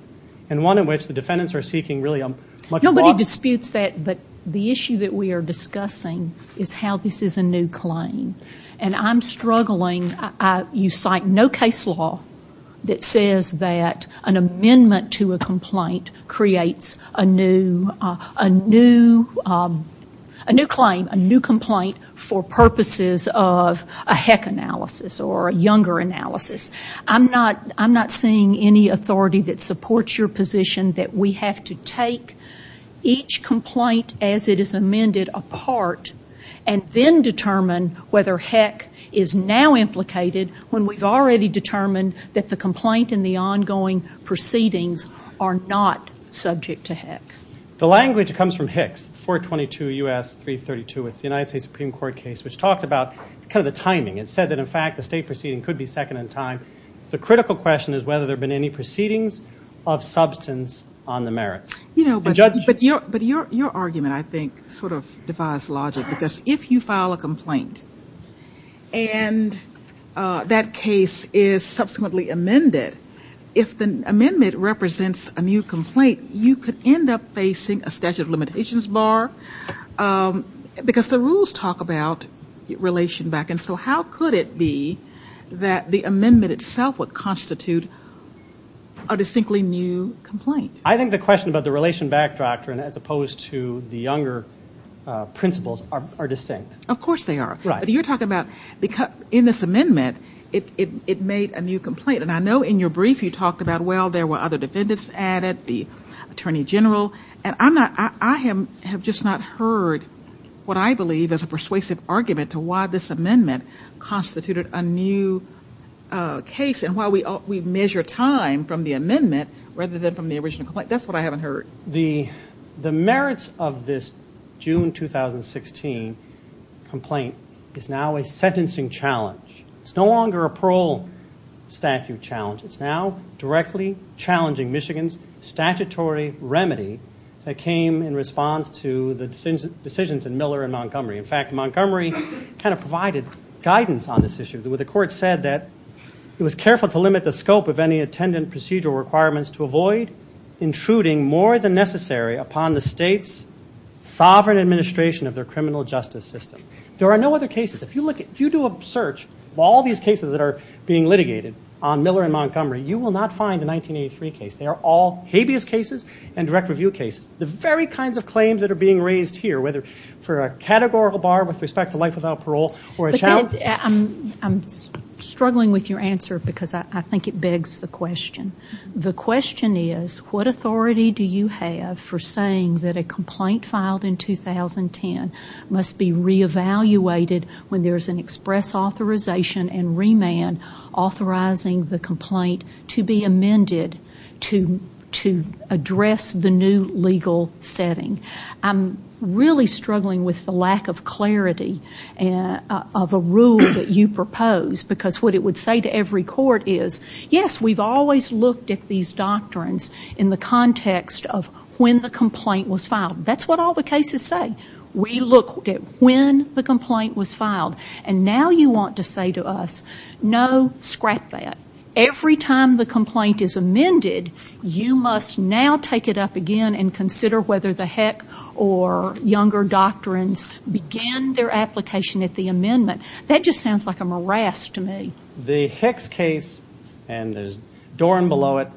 and one in which the defendants are seeking really a much broader... Nobody disputes that, but the issue that we are discussing is how this is a new claim, and I'm struggling. You cite no case law that says that an amendment to a complaint creates a new claim, a new complaint, for purposes of a HEC analysis or a younger analysis. I'm not seeing any authority that supports your position that we have to take each complaint as it is amended apart and then determine whether HEC is now implicated when we've already determined that the complaint and the ongoing proceedings are not subject to HEC. The language comes from HECS, 422 U.S. 332, with the United States Supreme Court case, which talks about kind of the timing. It said that in fact the state proceeding could be second in time. The critical question is whether there have been any proceedings of substance on the merits. But your argument, I think, sort of defies logic because if you file a complaint and that case is subsequently amended, if the amendment represents a new complaint, you could end up facing a statute of limitations bar because the rules talk about relation back, and so how could it be that the amendment itself would constitute a distinctly new complaint? I think the question about the relation back doctrine as opposed to the younger principles are distinct. Of course they are. But you're talking about, in this amendment, it made a new complaint. And I know in your brief you talked about, well, there were other defendants added, the attorney general. And I have just not heard what I believe is a persuasive argument and why we measure time from the amendment rather than from the original complaint. That's what I haven't heard. The merits of this June 2016 complaint is now a sentencing challenge. It's no longer a parole statute challenge. It's now directly challenging Michigan's statutory remedy that came in response to the decisions in Miller and Montgomery. In fact, Montgomery kind of provided guidance on this issue where the court said that it was careful to limit the scope of any attendant procedural requirements to avoid intruding more than necessary upon the state's sovereign administration of their criminal justice system. There are no other cases. If you do a search of all these cases that are being litigated on Miller and Montgomery, you will not find a 1983 case. They are all habeas cases and direct review cases. The very kinds of claims that are being raised here, whether for a categorical bar with respect to life without parole or a challenge... I'm struggling with your answer because I think it begs the question. The question is, what authority do you have for saying that a complaint filed in 2010 must be re-evaluated when there's an express authorization and remand authorizing the complaint to be amended to address the new legal setting? I'm really struggling with the lack of clarity of a rule that you propose because what it would say to every court is, yes, we've always looked at these doctrines in the context of when the complaint was filed. That's what all the cases say. We look at when the complaint was filed. And now you want to say to us, no, scrap that. Every time the complaint is amended, you must now take it up again and consider whether the Heck or Younger doctrines begin their application at the amendment. That just sounds like a morass to me. The Heck case and the Doran below it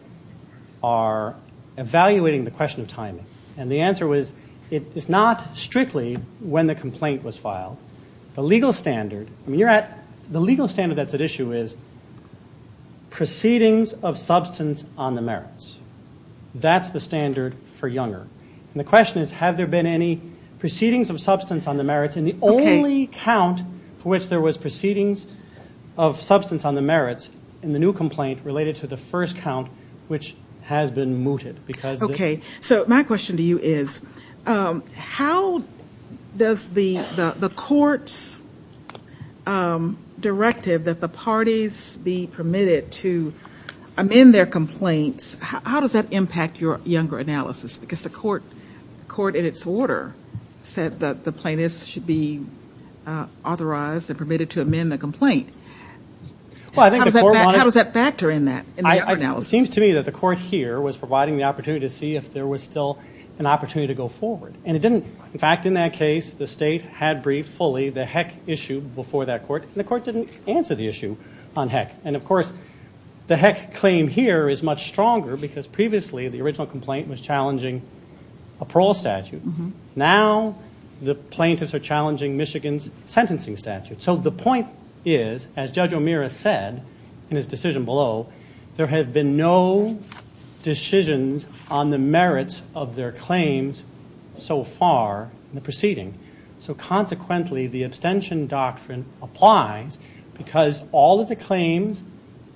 are evaluating the question of timing. And the answer was, it's not strictly when the complaint was filed. The legal standard that's at issue is proceedings of substance on the merits. That's the standard for Younger. And the question is, have there been any proceedings of substance on the merits? And the only count for which there was proceedings of substance on the merits in the new complaint related to the first count, which has been mooted. So my question to you is, how does the court's directive that the parties be permitted to amend their complaints, how does that impact your Younger analysis? Because the court in its order said that the plaintiffs should be authorized and permitted to amend the complaint. How does that factor in that in the Younger analysis? It seems to me that the court here was providing the opportunity to see if there was still an opportunity to go forward. And it didn't. In fact, in that case, the state had briefed fully the Heck issue before that court, and the court didn't answer the issue on Heck. And, of course, the Heck claim here is much stronger because previously the original complaint was challenging a parole statute. Now the plaintiffs are challenging Michigan's sentencing statute. So the point is, as Judge O'Meara said in his decision below, there have been no decisions on the merits of their claims so far in the proceeding. So, consequently, the abstention doctrine applies because all of the claims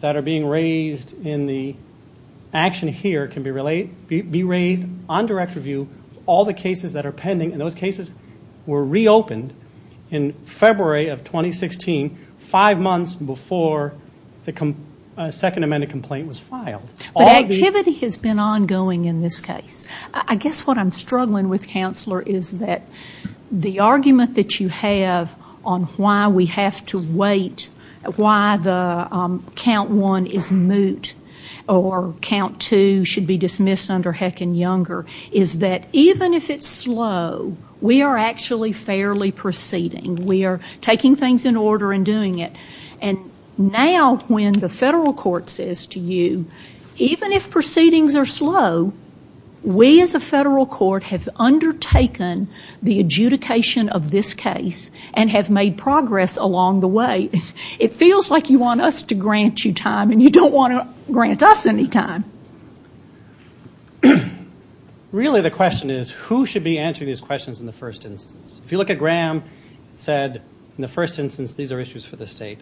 that are being raised in the action here can be raised on direct review. All the cases that are pending, and those cases were reopened in February of 2016, five months before the second amended complaint was filed. The activity has been ongoing in this case. I guess what I'm struggling with, Counselor, is that the argument that you have on why we have to wait, why the Count 1 is moot or Count 2 should be dismissed under Heck and Younger, is that even if it's slow, we are actually fairly proceeding. We are taking things in order and doing it. And now when the federal court says to you, even if proceedings are slow, we as a federal court have undertaken the adjudication of this case and have made progress along the way. It feels like you want us to grant you time and you don't want to grant us any time. Really the question is, who should be answering these questions in the first instance? If you look at Graham said, in the first instance, these are issues for the state.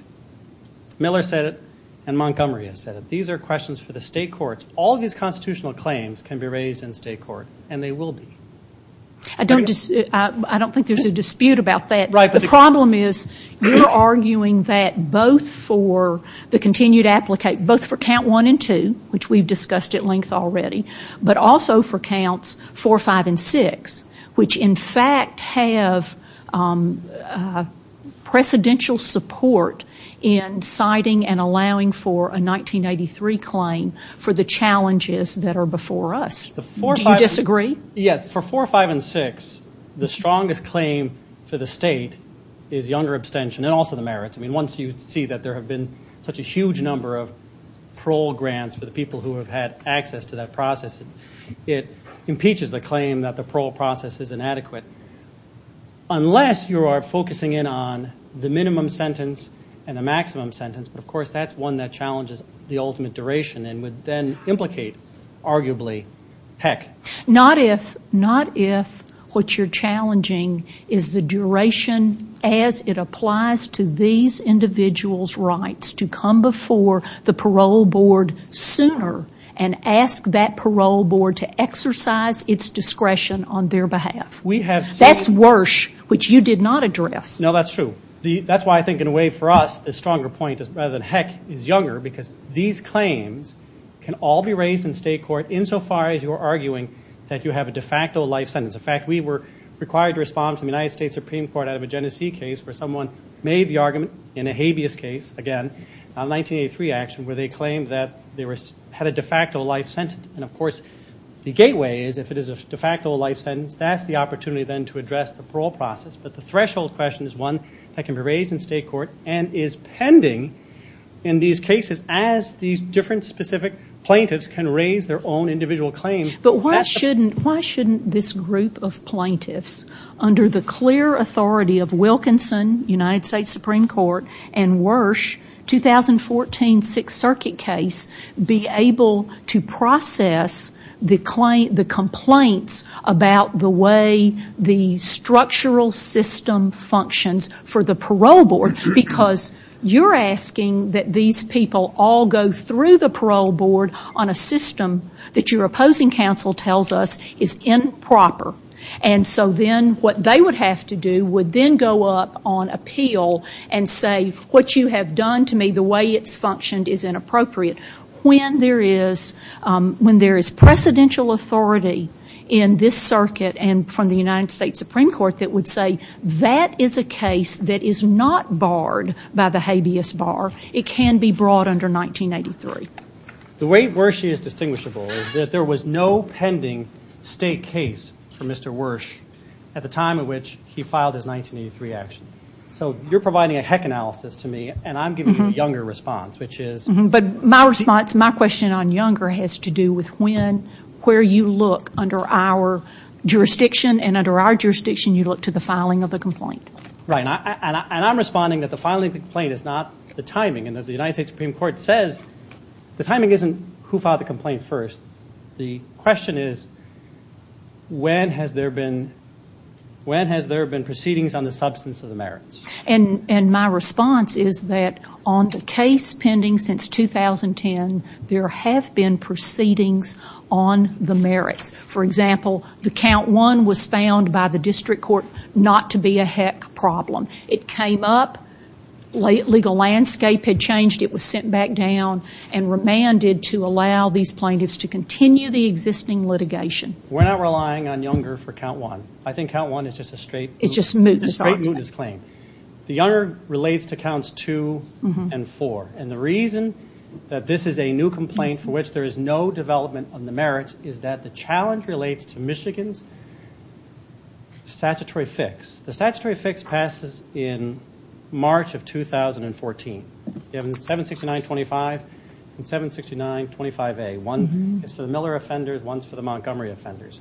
Miller said it and Montgomery has said it. These are questions for the state courts. All these constitutional claims can be raised in state court and they will be. I don't think there's a dispute about that. The problem is we're arguing that both for the continued application, both for Count 1 and 2, which we've discussed at length already, but also for Counts 4, 5, and 6, which in fact have precedential support in citing and allowing for a 1983 claim for the challenges that are before us. Do you disagree? Yes, for 4, 5, and 6, the strongest claim for the state is the under abstention and also the merits. Once you see that there have been such a huge number of parole grants for the people who have had access to that process, it impeaches the claim that the parole process is inadequate. Unless you are focusing in on the minimum sentence and the maximum sentence, but of course that's one that challenges the ultimate duration and would then implicate, arguably, heck. Not if what you're challenging is the duration as it applies to these individuals' rights to come before the parole board sooner and ask that parole board to exercise its discretion on their behalf. That's worse, which you did not address. No, that's true. That's why I think in a way for us, the stronger point is, rather than heck, is younger because these claims can all be raised in state court insofar as you are arguing that you have a de facto life sentence. In fact, we were required to respond to the United States Supreme Court out of a Genesee case where someone made the argument in a habeas case, again, a 1983 action where they claimed that they had a de facto life sentence. Of course, the gateway is if it is a de facto life sentence, that's the opportunity then to address the parole process. But the threshold question is one that can be raised in state court and is pending in these cases as these different specific plaintiffs can raise their own individual claims. But why shouldn't this group of plaintiffs, under the clear authority of Wilkinson, United States Supreme Court, and Wersch, 2014 Sixth Circuit case, be able to process the complaints about the way the structural system functions for the parole board because you're asking that these people all go through the parole board on a system that your opposing counsel tells us is improper. And so then what they would have to do would then go up on appeal and say, what you have done to me, the way it's functioned is inappropriate. When there is presidential authority in this circuit and from the United States Supreme Court that would say that is a case that is not barred by the habeas bar. It can be brought under 1983. The way Wersch is distinguishable is that there was no pending state case for Mr. Wersch at the time in which he filed his 1983 action. So you're providing a heck analysis to me and I'm giving you a younger response, which is... But my response, my question on younger has to do with when, where you look under our jurisdiction and under our jurisdiction you look to the filing of the complaint. Right, and I'm responding that the filing of the complaint is not the timing and as the United States Supreme Court says, the timing isn't who filed the complaint first. The question is, when has there been proceedings on the substance of the merits? And my response is that on the case pending since 2010, there have been proceedings on the merit. For example, the count one was found by the district court not to be a heck problem. It came up, legal landscape had changed, it was sent back down and remanded to allow these plaintiffs to continue the existing litigation. We're not relying on younger for count one. I think count one is just a straight... It's just moot. Straight moot is plain. The younger relates to counts two and four. And the reason that this is a new complaint for which there is no development on the merits is that the challenge relates to Michigan's statutory fix. The statutory fix passes in March of 2014. We have 76925 and 76925A. One is for the Miller offenders, one is for the Montgomery offenders.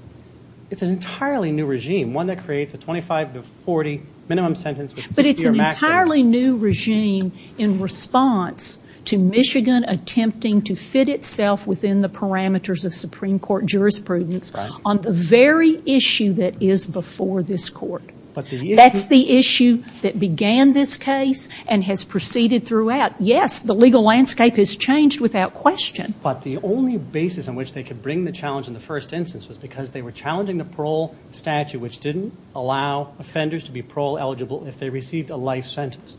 It's an entirely new regime, one that creates a 25 to 40 minimum sentence... But it's an entirely new regime in response to Michigan attempting to fit itself within the parameters of Supreme Court jurisprudence on the very issue that is before this court. That's the issue that began this case and has proceeded throughout. Yes, the legal landscape has changed without question. But the only basis on which they could bring the challenge in the first instance is because they were challenging the parole statute which didn't allow offenders to be parole eligible if they received a life sentence.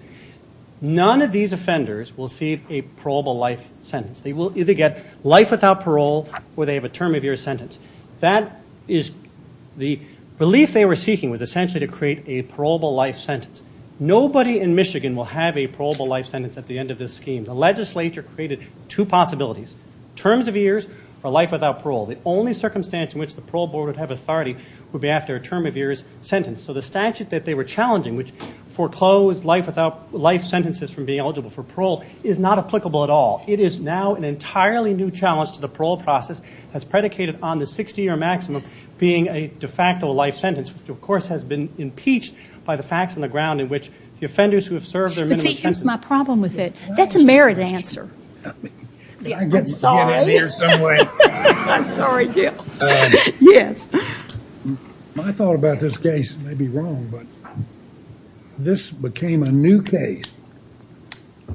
None of these offenders will see a parolable life sentence. They will either get life without parole or they have a term of year sentence. That is the belief they were seeking was essentially to create a parolable life sentence. Nobody in Michigan will have a parolable life sentence at the end of this scheme. The legislature created two possibilities, terms of years or life without parole. The only circumstance in which the parole board would have authority would be after a term of years sentence. So the statute that they were challenging, which foreclosed life sentences from being eligible for parole, is not applicable at all. It is now an entirely new challenge to the parole process that's predicated on the 60-year maximum being a de facto life sentence, which of course has been impeached by the facts on the ground in which the offenders who have served their minimum sentence... That's my problem with it. That's the mayor's answer. I'm sorry. I'm sorry, Gil. My thought about this case may be wrong, but this became a new case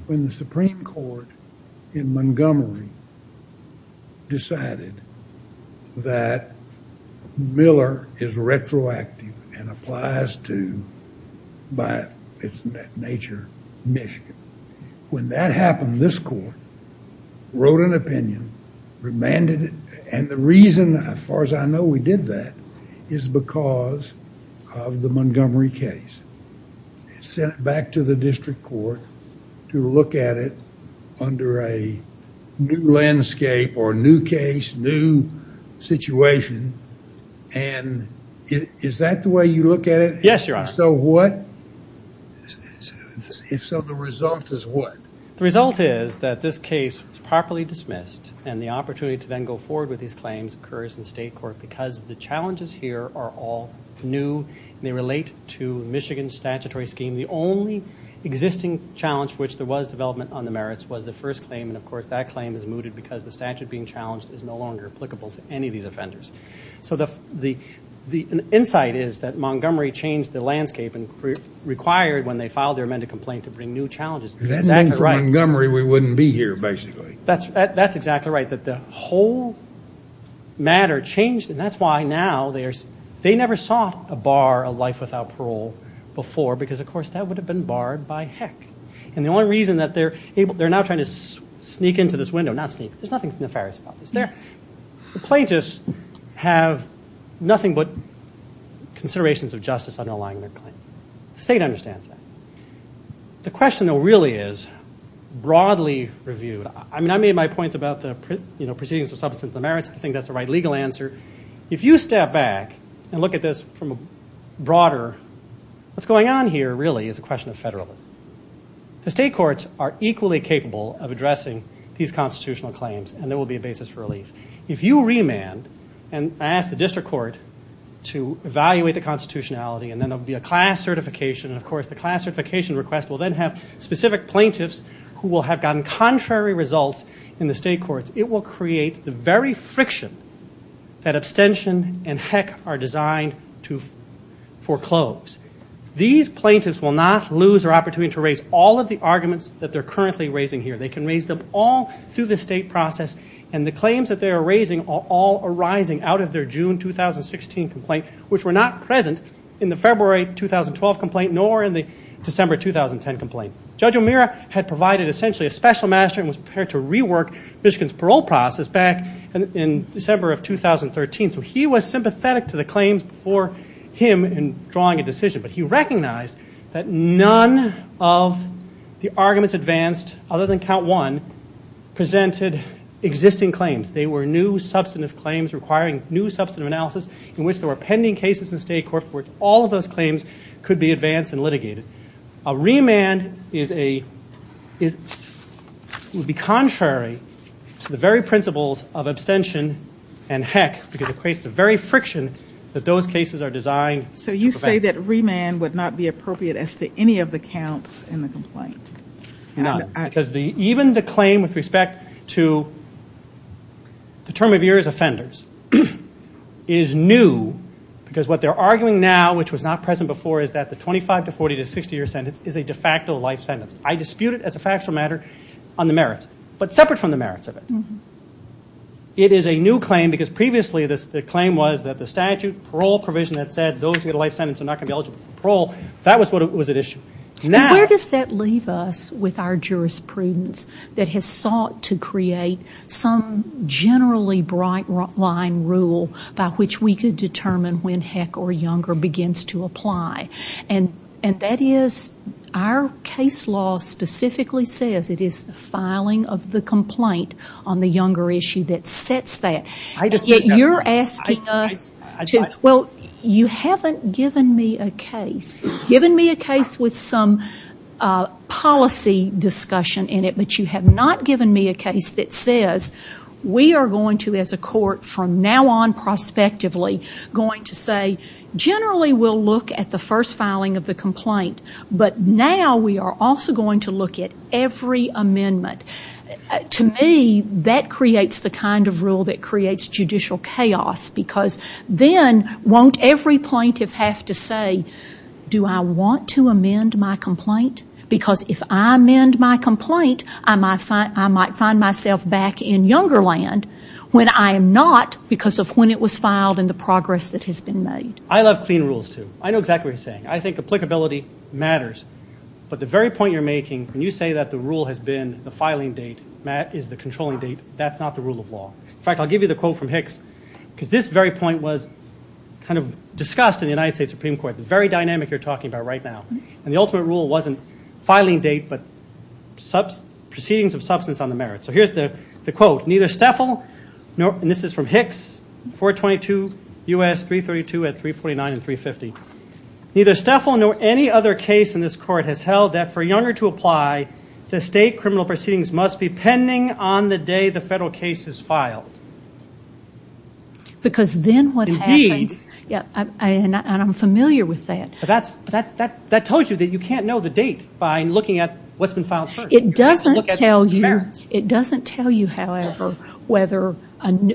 when the Supreme Court in Montgomery decided that Miller is retroactive and applies to, by its nature, Michigan. When that happened, this court wrote an opinion, remanded it, and the reason as far as I know we did that is because of the Montgomery case. It's sent back to the district court to look at it under a new landscape or a new case, new situation, and is that the way you look at it? Yes, Your Honor. So the result is what? The result is that this case was properly dismissed and the opportunity to then go forward with these claims occurs in state court because the challenges here are all new. They relate to Michigan's statutory scheme. The only existing challenge for which there was development on the merits was the first claim, and of course that claim is mooted because the statute being challenged is no longer applicable to any of these offenders. So the insight is that Montgomery changed the landscape and required when they filed their amended complaint to bring new challenges. Then for Montgomery, we wouldn't be here, basically. That's exactly right, but the whole matter changed, and that's why now they never saw a bar of life without parole before because of course that would have been barred by heck, and the only reason that they're now trying to sneak into this window, not sneak, there's nothing nefarious about this. The plaintiffs have nothing but considerations of justice underlying their claim. The state understands that. The question, though, really is broadly reviewed. I mean, I made my point about the proceedings of substance of merits. I think that's the right legal answer. If you step back and look at this from a broader, what's going on here really is a question of federalism. The state courts are equally capable of addressing these constitutional claims, and there will be a basis for relief. If you remand and ask the district court to evaluate the constitutionality and then there will be a class certification, and of course the class certification request will then have specific plaintiffs who will have gotten contrary results in the state courts. It will create the very friction that abstention and heck are designed to foreclose. These plaintiffs will not lose their opportunity to raise all of the arguments that they're currently raising here. They can raise them all through the state process, and the claims that they are raising are all arising out of their June 2016 complaint, which were not present in the February 2012 complaint nor in the December 2010 complaint. Judge O'Meara had provided essentially a special master and was prepared to rework Michigan's parole process back in December of 2013, so he was sympathetic to the claims before him in drawing a decision, but he recognized that none of the arguments advanced other than count one presented existing claims. They were new substance claims requiring new substance analysis in which there were pending cases in the state courts where all of those claims could be advanced and litigated. A remand would be contrary to the very principles of abstention and heck because it creates the very friction that those cases are designed. So you say that remand would not be appropriate as to any of the counts in the complaint? No, because even the claim with respect to the term of years offenders is new because what they're arguing now, which was not present before, is that the 25 to 40 to 60 year sentence is a de facto life sentence. I dispute it as a factual matter on the merits, but separate from the merits of it. It is a new claim because previously the claim was that the statute, parole provision that said those who get a life sentence are not going to be eligible for parole, that was what was at issue. Where does that leave us with our jurisprudence that has sought to create some generally bright line rule by which we could determine when heck or younger begins to apply? And that is our case law specifically says it is the filing of the complaint on the younger issue that sets that. I dispute that. You're asking us to, well, you haven't given me a case. Given me a case with some policy discussion in it, but you have not given me a case that says we are going to, as a court, from now on prospectively going to say generally we'll look at the first filing of the complaint, but now we are also going to look at every amendment. To me, that creates the kind of rule that creates judicial chaos because then won't every plaintiff have to say, do I want to amend my complaint? Because if I amend my complaint, I might find myself back in younger land when I am not because of when it was filed and the progress that has been made. I love clean rules, too. I know exactly what you're saying. I think applicability matters, but the very point you're making when you say that the rule has been the filing date is the controlling date, that's not the rule of law. In fact, I'll give you the quote from Hicks because this very point was kind of discussed in the United States Supreme Court, the very dynamic you're talking about right now, and the ultimate rule wasn't filing date but proceedings of substance on the merits. So here's the quote. Neither Steffel, and this is from Hicks, 422 U.S. 332 at 329 and 350. Neither Steffel nor any other case in this court has held that for younger to apply to state criminal proceedings must be pending on the day the federal case is filed. Because then what is happening, and I'm familiar with that. That tells you that you can't know the date by looking at what's been filed first. It doesn't tell you, however, whether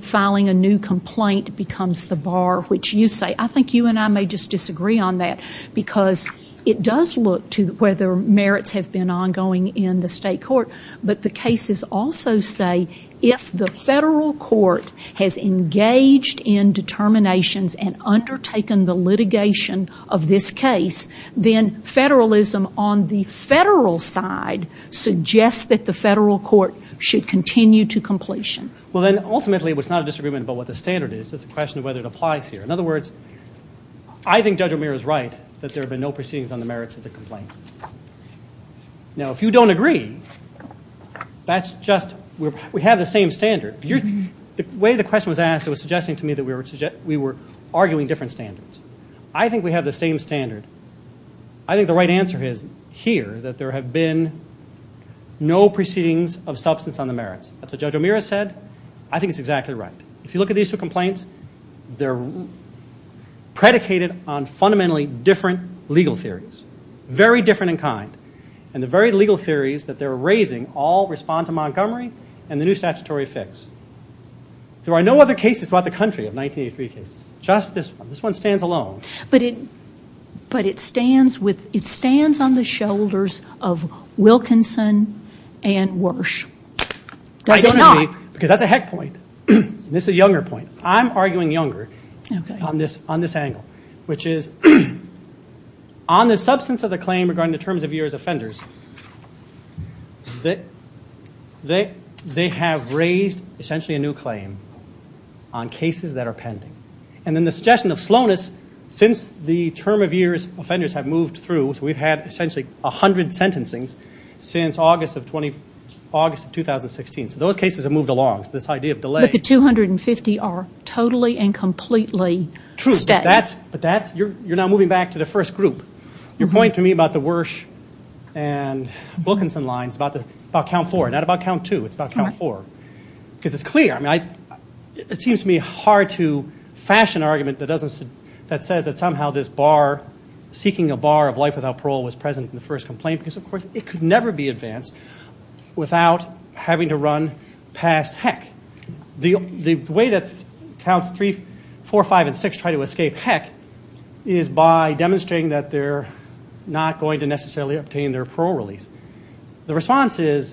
filing a new complaint becomes the bar which you say. I think you and I may just disagree on that because it does look to whether merits have been ongoing in the state court, but the cases also say if the federal court has engaged in determinations and undertaken the litigation of this case, then federalism on the federal side suggests that the federal court should continue to completion. Well, then ultimately it's not a disagreement about what the standard is. It's a question of whether it applies here. In other words, I think Judge O'Meara is right that there have been no proceedings on the merits of the complaint. Now, if you don't agree, that's just, we have the same standard. The way the question was asked, it was suggesting to me that we were arguing different standards. I think we have the same standard. I think the right answer is here that there have been no proceedings of substance on the merits. That's what Judge O'Meara said. I think it's exactly right. If you look at these two complaints, they're predicated on fundamentally different legal theories. Very different in kind. And the very legal theories that they're raising all respond to Montgomery and the new statutory fix. There are no other cases throughout the country of 1983 cases. Just this one. This one stands alone. But it stands on the shoulders of Wilkinson and Warsh. Because that's a heck point. This is a younger point. I'm arguing younger on this angle, which is on the substance of the claim regarding the terms of years offenders, they have raised essentially a new claim on cases that are pending. And in the suggestion of slowness, since the term of years offenders have moved through, we've had essentially 100 sentencing since August of 2016. So those cases have moved along. This idea of delay. But the 250 are totally and completely true. You're now moving back to the first group. Your point to me about the Warsh and Wilkinson lines, about count four. Not about count two. It's about count four. Because it's clear. It seems to me hard to fashion an argument that says that somehow this bar, seeking a bar of life without parole was present in the first complaint. Because, of course, it could never be advanced without having to run past heck. The way that counts three, four, five, and six try to escape heck is by demonstrating that they're not going to necessarily obtain their parole release. The response is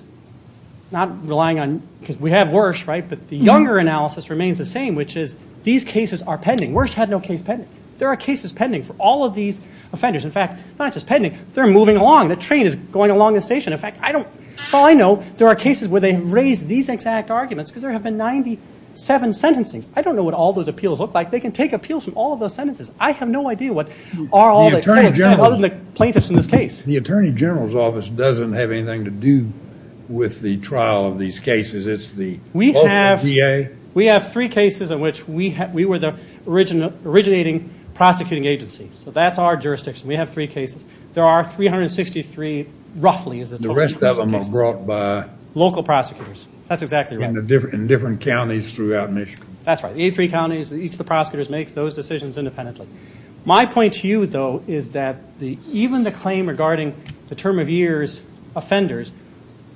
not relying on, because we have Warsh, right? But the younger analysis remains the same, which is these cases are pending. Warsh had no case pending. There are cases pending for all of these offenders. In fact, not just pending. They're moving along. The train is going along the station. In fact, all I know there are cases where they raise these exact arguments because there have been 97 sentencing. I don't know what all those appeals look like. They can take appeals from all of those sentences. I have no idea what all the plaintiffs in this case. The Attorney General's Office doesn't have anything to do with the trial of these cases. It's the EPA. We have three cases in which we were the originating prosecuting agency. So that's our jurisdiction. We have three cases. There are 363 roughly. The rest of them are brought by local prosecutors. That's exactly right. In different counties throughout Michigan. That's right. The 83 counties, each of the prosecutors makes those decisions independently. My point to you, though, is that even the claim regarding the term of years offenders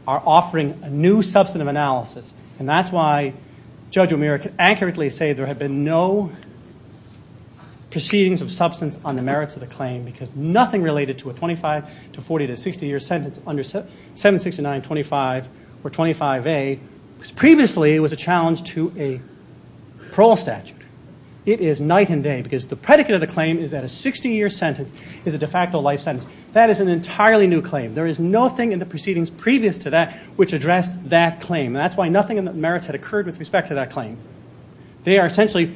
are offering a new substantive analysis, and that's why Judge O'Meara can accurately say there have been no proceedings of substance on the merits of the claim because nothing related to a 25 to 40 to 60-year sentence under 769.25 or 25A previously was a challenge to a parole statute. It is night and day because the predicate of the claim is that a 60-year sentence is a de facto life sentence. That is an entirely new claim. There is nothing in the proceedings previous to that which addressed that claim, and that's why nothing on the merits had occurred with respect to that claim. They are essentially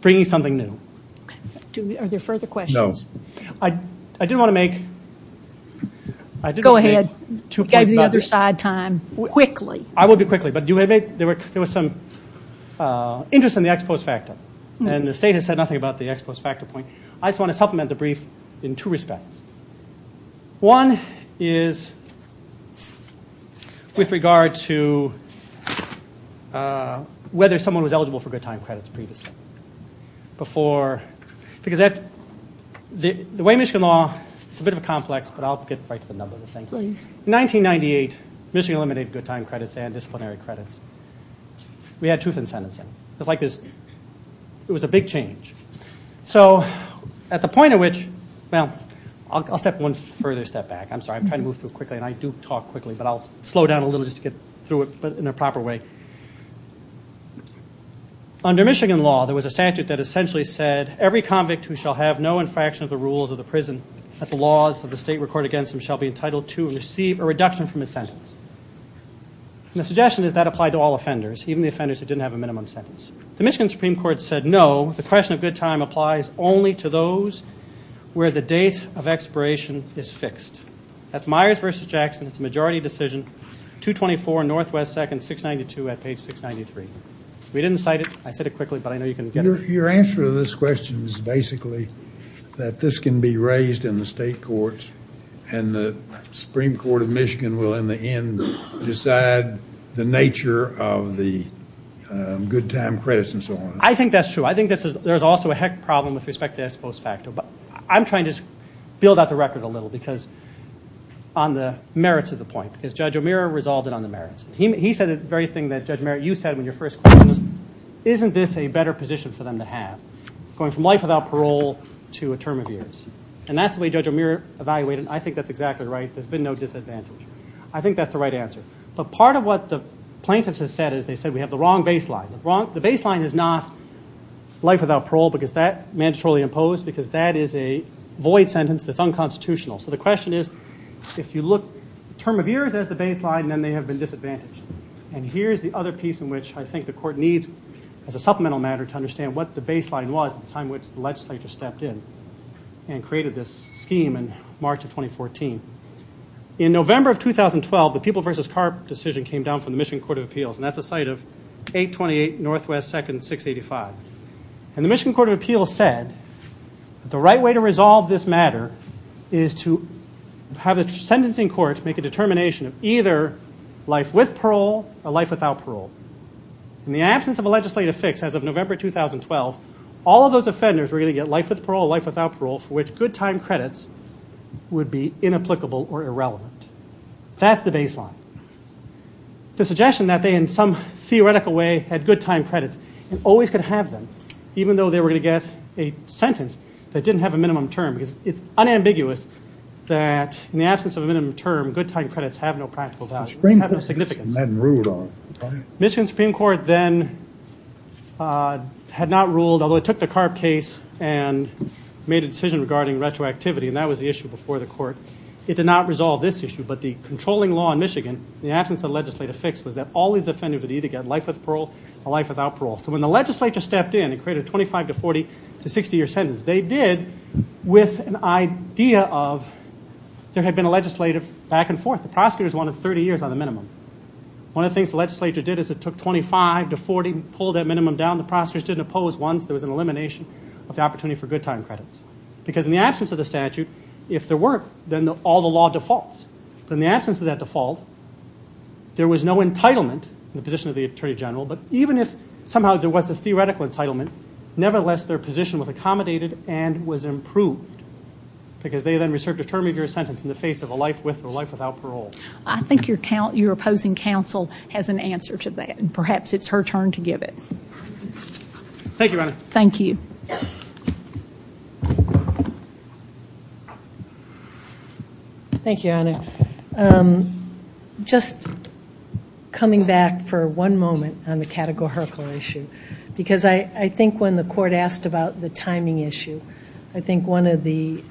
bringing something new. Are there further questions? No. I did want to make two points. Go ahead. Give the other side time. Quickly. I will be quickly, but there was some interest in the ex post facto, and the state has said nothing about the ex post facto point. I just want to supplement the brief in two respects. One is with regard to whether someone was eligible for good time credits previously because the way Michigan law is a bit of a complex, but I will get right to the numbers. In 1998, Michigan eliminated the time credits and disciplinary credits. We had truth in sentencing. It was a big change. At the point at which, well, I will take one further step back. I'm sorry. I'm trying to move through quickly, and I do talk quickly, but I will slow down a little just to get through it in a proper way. Under Michigan law, there was a statute that essentially said, every convict who shall have no infraction of the rules of the prison that the laws of the state record against him shall be entitled to and receive a reduction from his sentence. The suggestion is that applied to all offenders, even the offenders who didn't have a minimum sentence. The Michigan Supreme Court said no. The question of good time applies only to those where the date of expiration is fixed. That's Myers v. Jackson's majority decision, 224 N.W. 2nd, 692 A. Page 693. We didn't cite it. I said it quickly, but I know you can get it. Your answer to this question is basically that this can be raised in the state courts, and the Supreme Court of Michigan will, in the end, decide the nature of the good time credits and so on. I think that's true. I think there's also a heck of a problem with respect to that close factor, but I'm trying to build out the record a little because on the merits of the point. Judge O'Meara resolved it on the merits. He said the very thing that Judge O'Meara used to have in your first question. Isn't this a better position for them to have, going from life without parole to a term of years? And that's the way Judge O'Meara evaluated it. I think that's exactly right. There's been no disadvantage. I think that's the right answer. But part of what the plaintiffs have said is they said we have the wrong baseline. The baseline is not life without parole because that's mandatorily imposed because that is a void sentence that's unconstitutional. So the question is if you look term of years as the baseline, then they have been disadvantaged. And here's the other piece in which I think the court needs as a supplemental matter to understand what the baseline was at the time which the legislature stepped in and created this scheme in March of 2014. In November of 2012, the People v. Park decision came down from the Michigan Court of Appeals, and that's a site of 828 Northwest 2nd, 685. And the Michigan Court of Appeals said the right way to resolve this matter is to have a sentencing court make a determination of either life with parole or life without parole. In the absence of a legislative fix as of November 2012, all of those offenders were going to get life with parole or life without parole for which good time credits would be inapplicable or irrelevant. That's the baseline. The suggestion that they in some theoretical way had good time credits and always could have them even though they were going to get a sentence that didn't have a minimum term. It's unambiguous that in the absence of a minimum term, good time credits have no practical value. They have no significance. Michigan Supreme Court then had not ruled, although it took the Karp case and made a decision regarding retroactivity, and that was the issue before the court. It did not resolve this issue, but the controlling law in Michigan, in the absence of a legislative fix, was that all these offenders would either get life with parole or life without parole. So when the legislature stepped in and created a 25 to 40 to 60-year sentence, they did with an idea of there had been a legislative back and forth. The prosecutors wanted 30 years on the minimum. One of the things the legislature did is it took 25 to 40, pulled that minimum down. The prosecutors didn't oppose once. There was an elimination of the opportunity for good time credits because in the absence of the statute, if there were, then all the law defaults. So in the absence of that default, there was no entitlement in the position of the Attorney General, but even if somehow there was this theoretical entitlement, nevertheless their position was accommodated and was improved because they then received a term of your sentence in the face of a life with or life without parole. I think your opposing counsel has an answer to that, and perhaps it's her turn to give it. Thank you, Anna. Thank you. Thank you, Anna. Just coming back for one moment on the categorical issue because I think when the court asked about the timing issue, I think one of the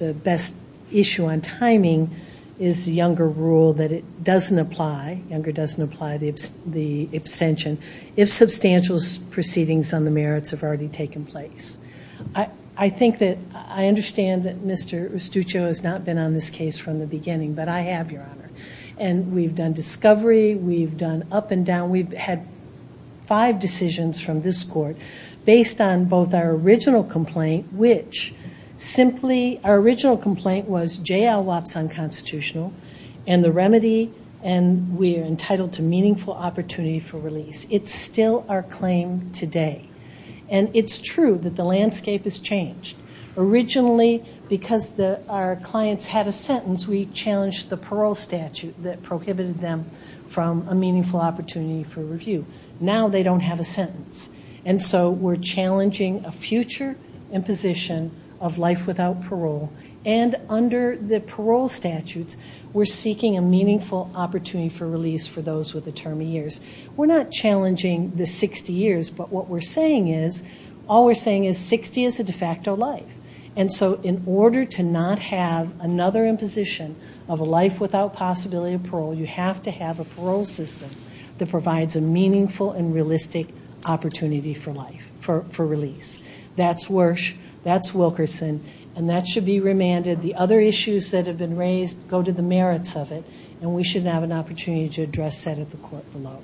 best issue on timing is the Younger rule that it doesn't apply, Younger doesn't apply the abstention, if substantial proceedings on the merits have already taken place. I think that I understand that Mr. Estuchio has not been on this case from the beginning, but I have, Your Honor. And we've done discovery, we've done up and down, we've had five decisions from this court based on both our original complaint, which simply our original complaint was J.L. Watson constitutional, and the remedy and we are entitled to meaningful opportunity for release. It's still our claim today. And it's true that the landscape has changed. Originally, because our clients had a sentence, we challenged the parole statute that prohibited them from a meaningful opportunity for review. Now they don't have a sentence. And so we're challenging a future imposition of life without parole, and under the parole statutes, we're seeking a meaningful opportunity for release for those with a term of years. We're not challenging the 60 years, but what we're saying is all we're saying is 60 is a de facto life. And so in order to not have another imposition of a life without possibility of parole, you have to have a parole system that provides a meaningful and realistic opportunity for life, for release. That's Wersch, that's Wilkerson, and that should be remanded. The other issues that have been raised go to the merits of it, and we should have an opportunity to address that at the court below.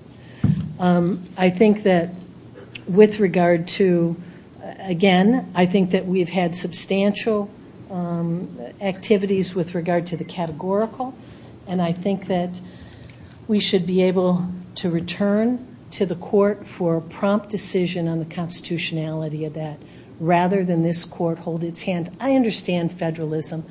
I think that with regard to, again, I think that we've had substantial activities with regard to the categorical, and I think that we should be able to return to the court for prompt decision on the constitutionality of that rather than this court hold its hand. I understand federalism,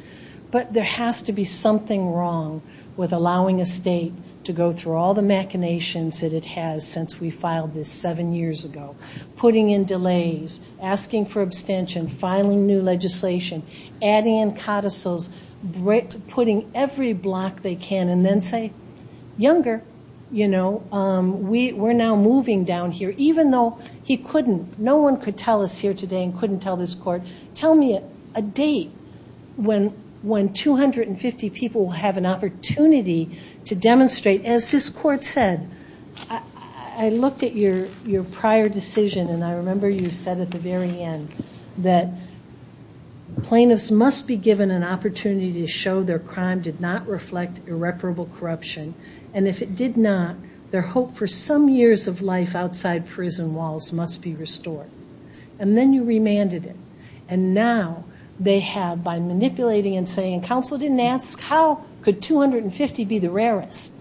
but there has to be something wrong with allowing a state to go through all the machinations that it has since we filed this seven years ago, putting in delays, asking for abstention, filing new legislation, adding in codicils, putting every block they can, and then say, younger, you know, we're now moving down here, even though he couldn't, no one could tell us here today and couldn't tell this court, tell me a date when 250 people will have an opportunity to demonstrate, as this court said, I looked at your prior decision, and I remember you said at the very end that plaintiffs must be given an opportunity to show their crime did not reflect irreparable corruption, and if it did not, their hope for some years of life outside prison walls must be restored. And then you remanded it, and now they have, by manipulating and saying, counsel didn't ask, how could 250 be the rarest?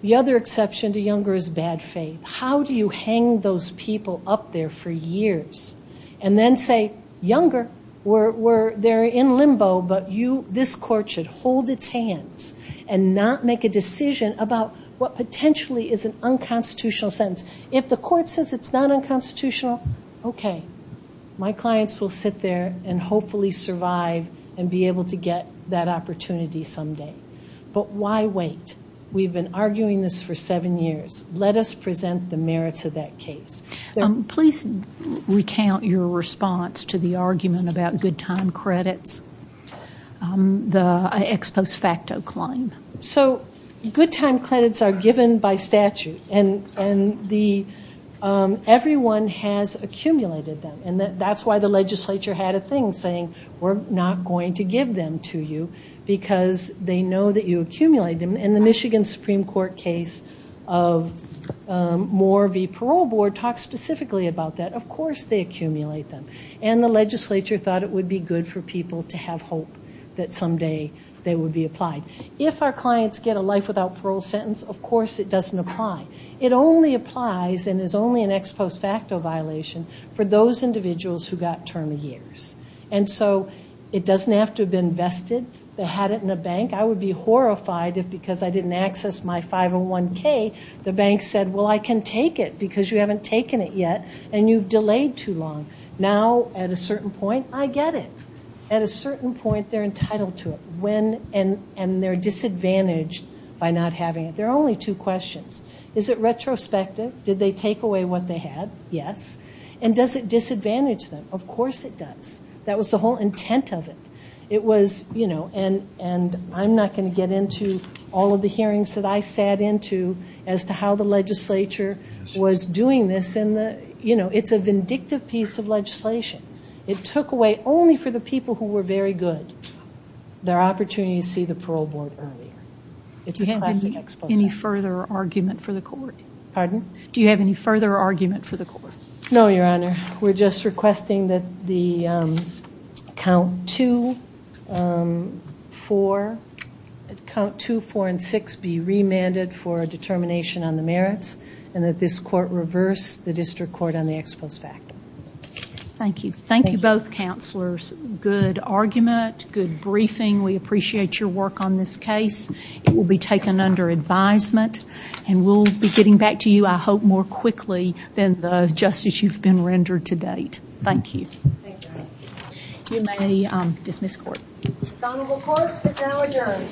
The other exception to younger is bad faith. How do you hang those people up there for years and then say, younger, they're in limbo, but this court should hold its hand and not make a decision about what potentially is an unconstitutional sentence. If the court says it's not unconstitutional, okay, my clients will sit there and hopefully survive and be able to get that opportunity someday, but why wait? We've been arguing this for seven years. Let us present the merits of that case. Please recount your response to the argument about good time credits, the ex post facto claim. So good time credits are given by statute, and everyone has accumulated them, and that's why the legislature had a thing saying we're not going to give them to you because they know that you accumulate them, and the Michigan Supreme Court case of Moore v. Parole Board talked specifically about that. Of course they accumulate them, and the legislature thought it would be good for people to have hope that someday they would be applied. If our clients get a life without parole sentence, of course it doesn't apply. It only applies and is only an ex post facto violation for those individuals who got term years, and so it doesn't have to have been vested. They had it in the bank. I would be horrified if because I didn't access my 501K, the bank said, well, I can take it because you haven't taken it yet and you've delayed too long. Now at a certain point, I get it. At a certain point, they're entitled to it. And they're disadvantaged by not having it. There are only two questions. Is it retrospective? Did they take away what they had? Yes. And does it disadvantage them? Of course it does. That was the whole intent of it. It was, you know, and I'm not going to get into all of the hearings that I sat into as to how the legislature was doing this. It's a vindictive piece of legislation. It took away only for the people who were very good. There are opportunities to see the parole board earlier. Do you have any further argument for the court? Pardon? Do you have any further argument for the court? No, Your Honor. We're just requesting that the count two, four, count two, four, and six be remanded for determination on the merits and that this court reverse the district court on the expulse factor. Thank you. Thank you both counselors. Good argument. Good briefing. We appreciate your work on this case. It will be taken under advisement and we'll be getting back to you, I hope, more quickly than the justice you've been rendered to date. Thank you. Thank you. You may dismiss the court. The Honorable Court is now adjourned.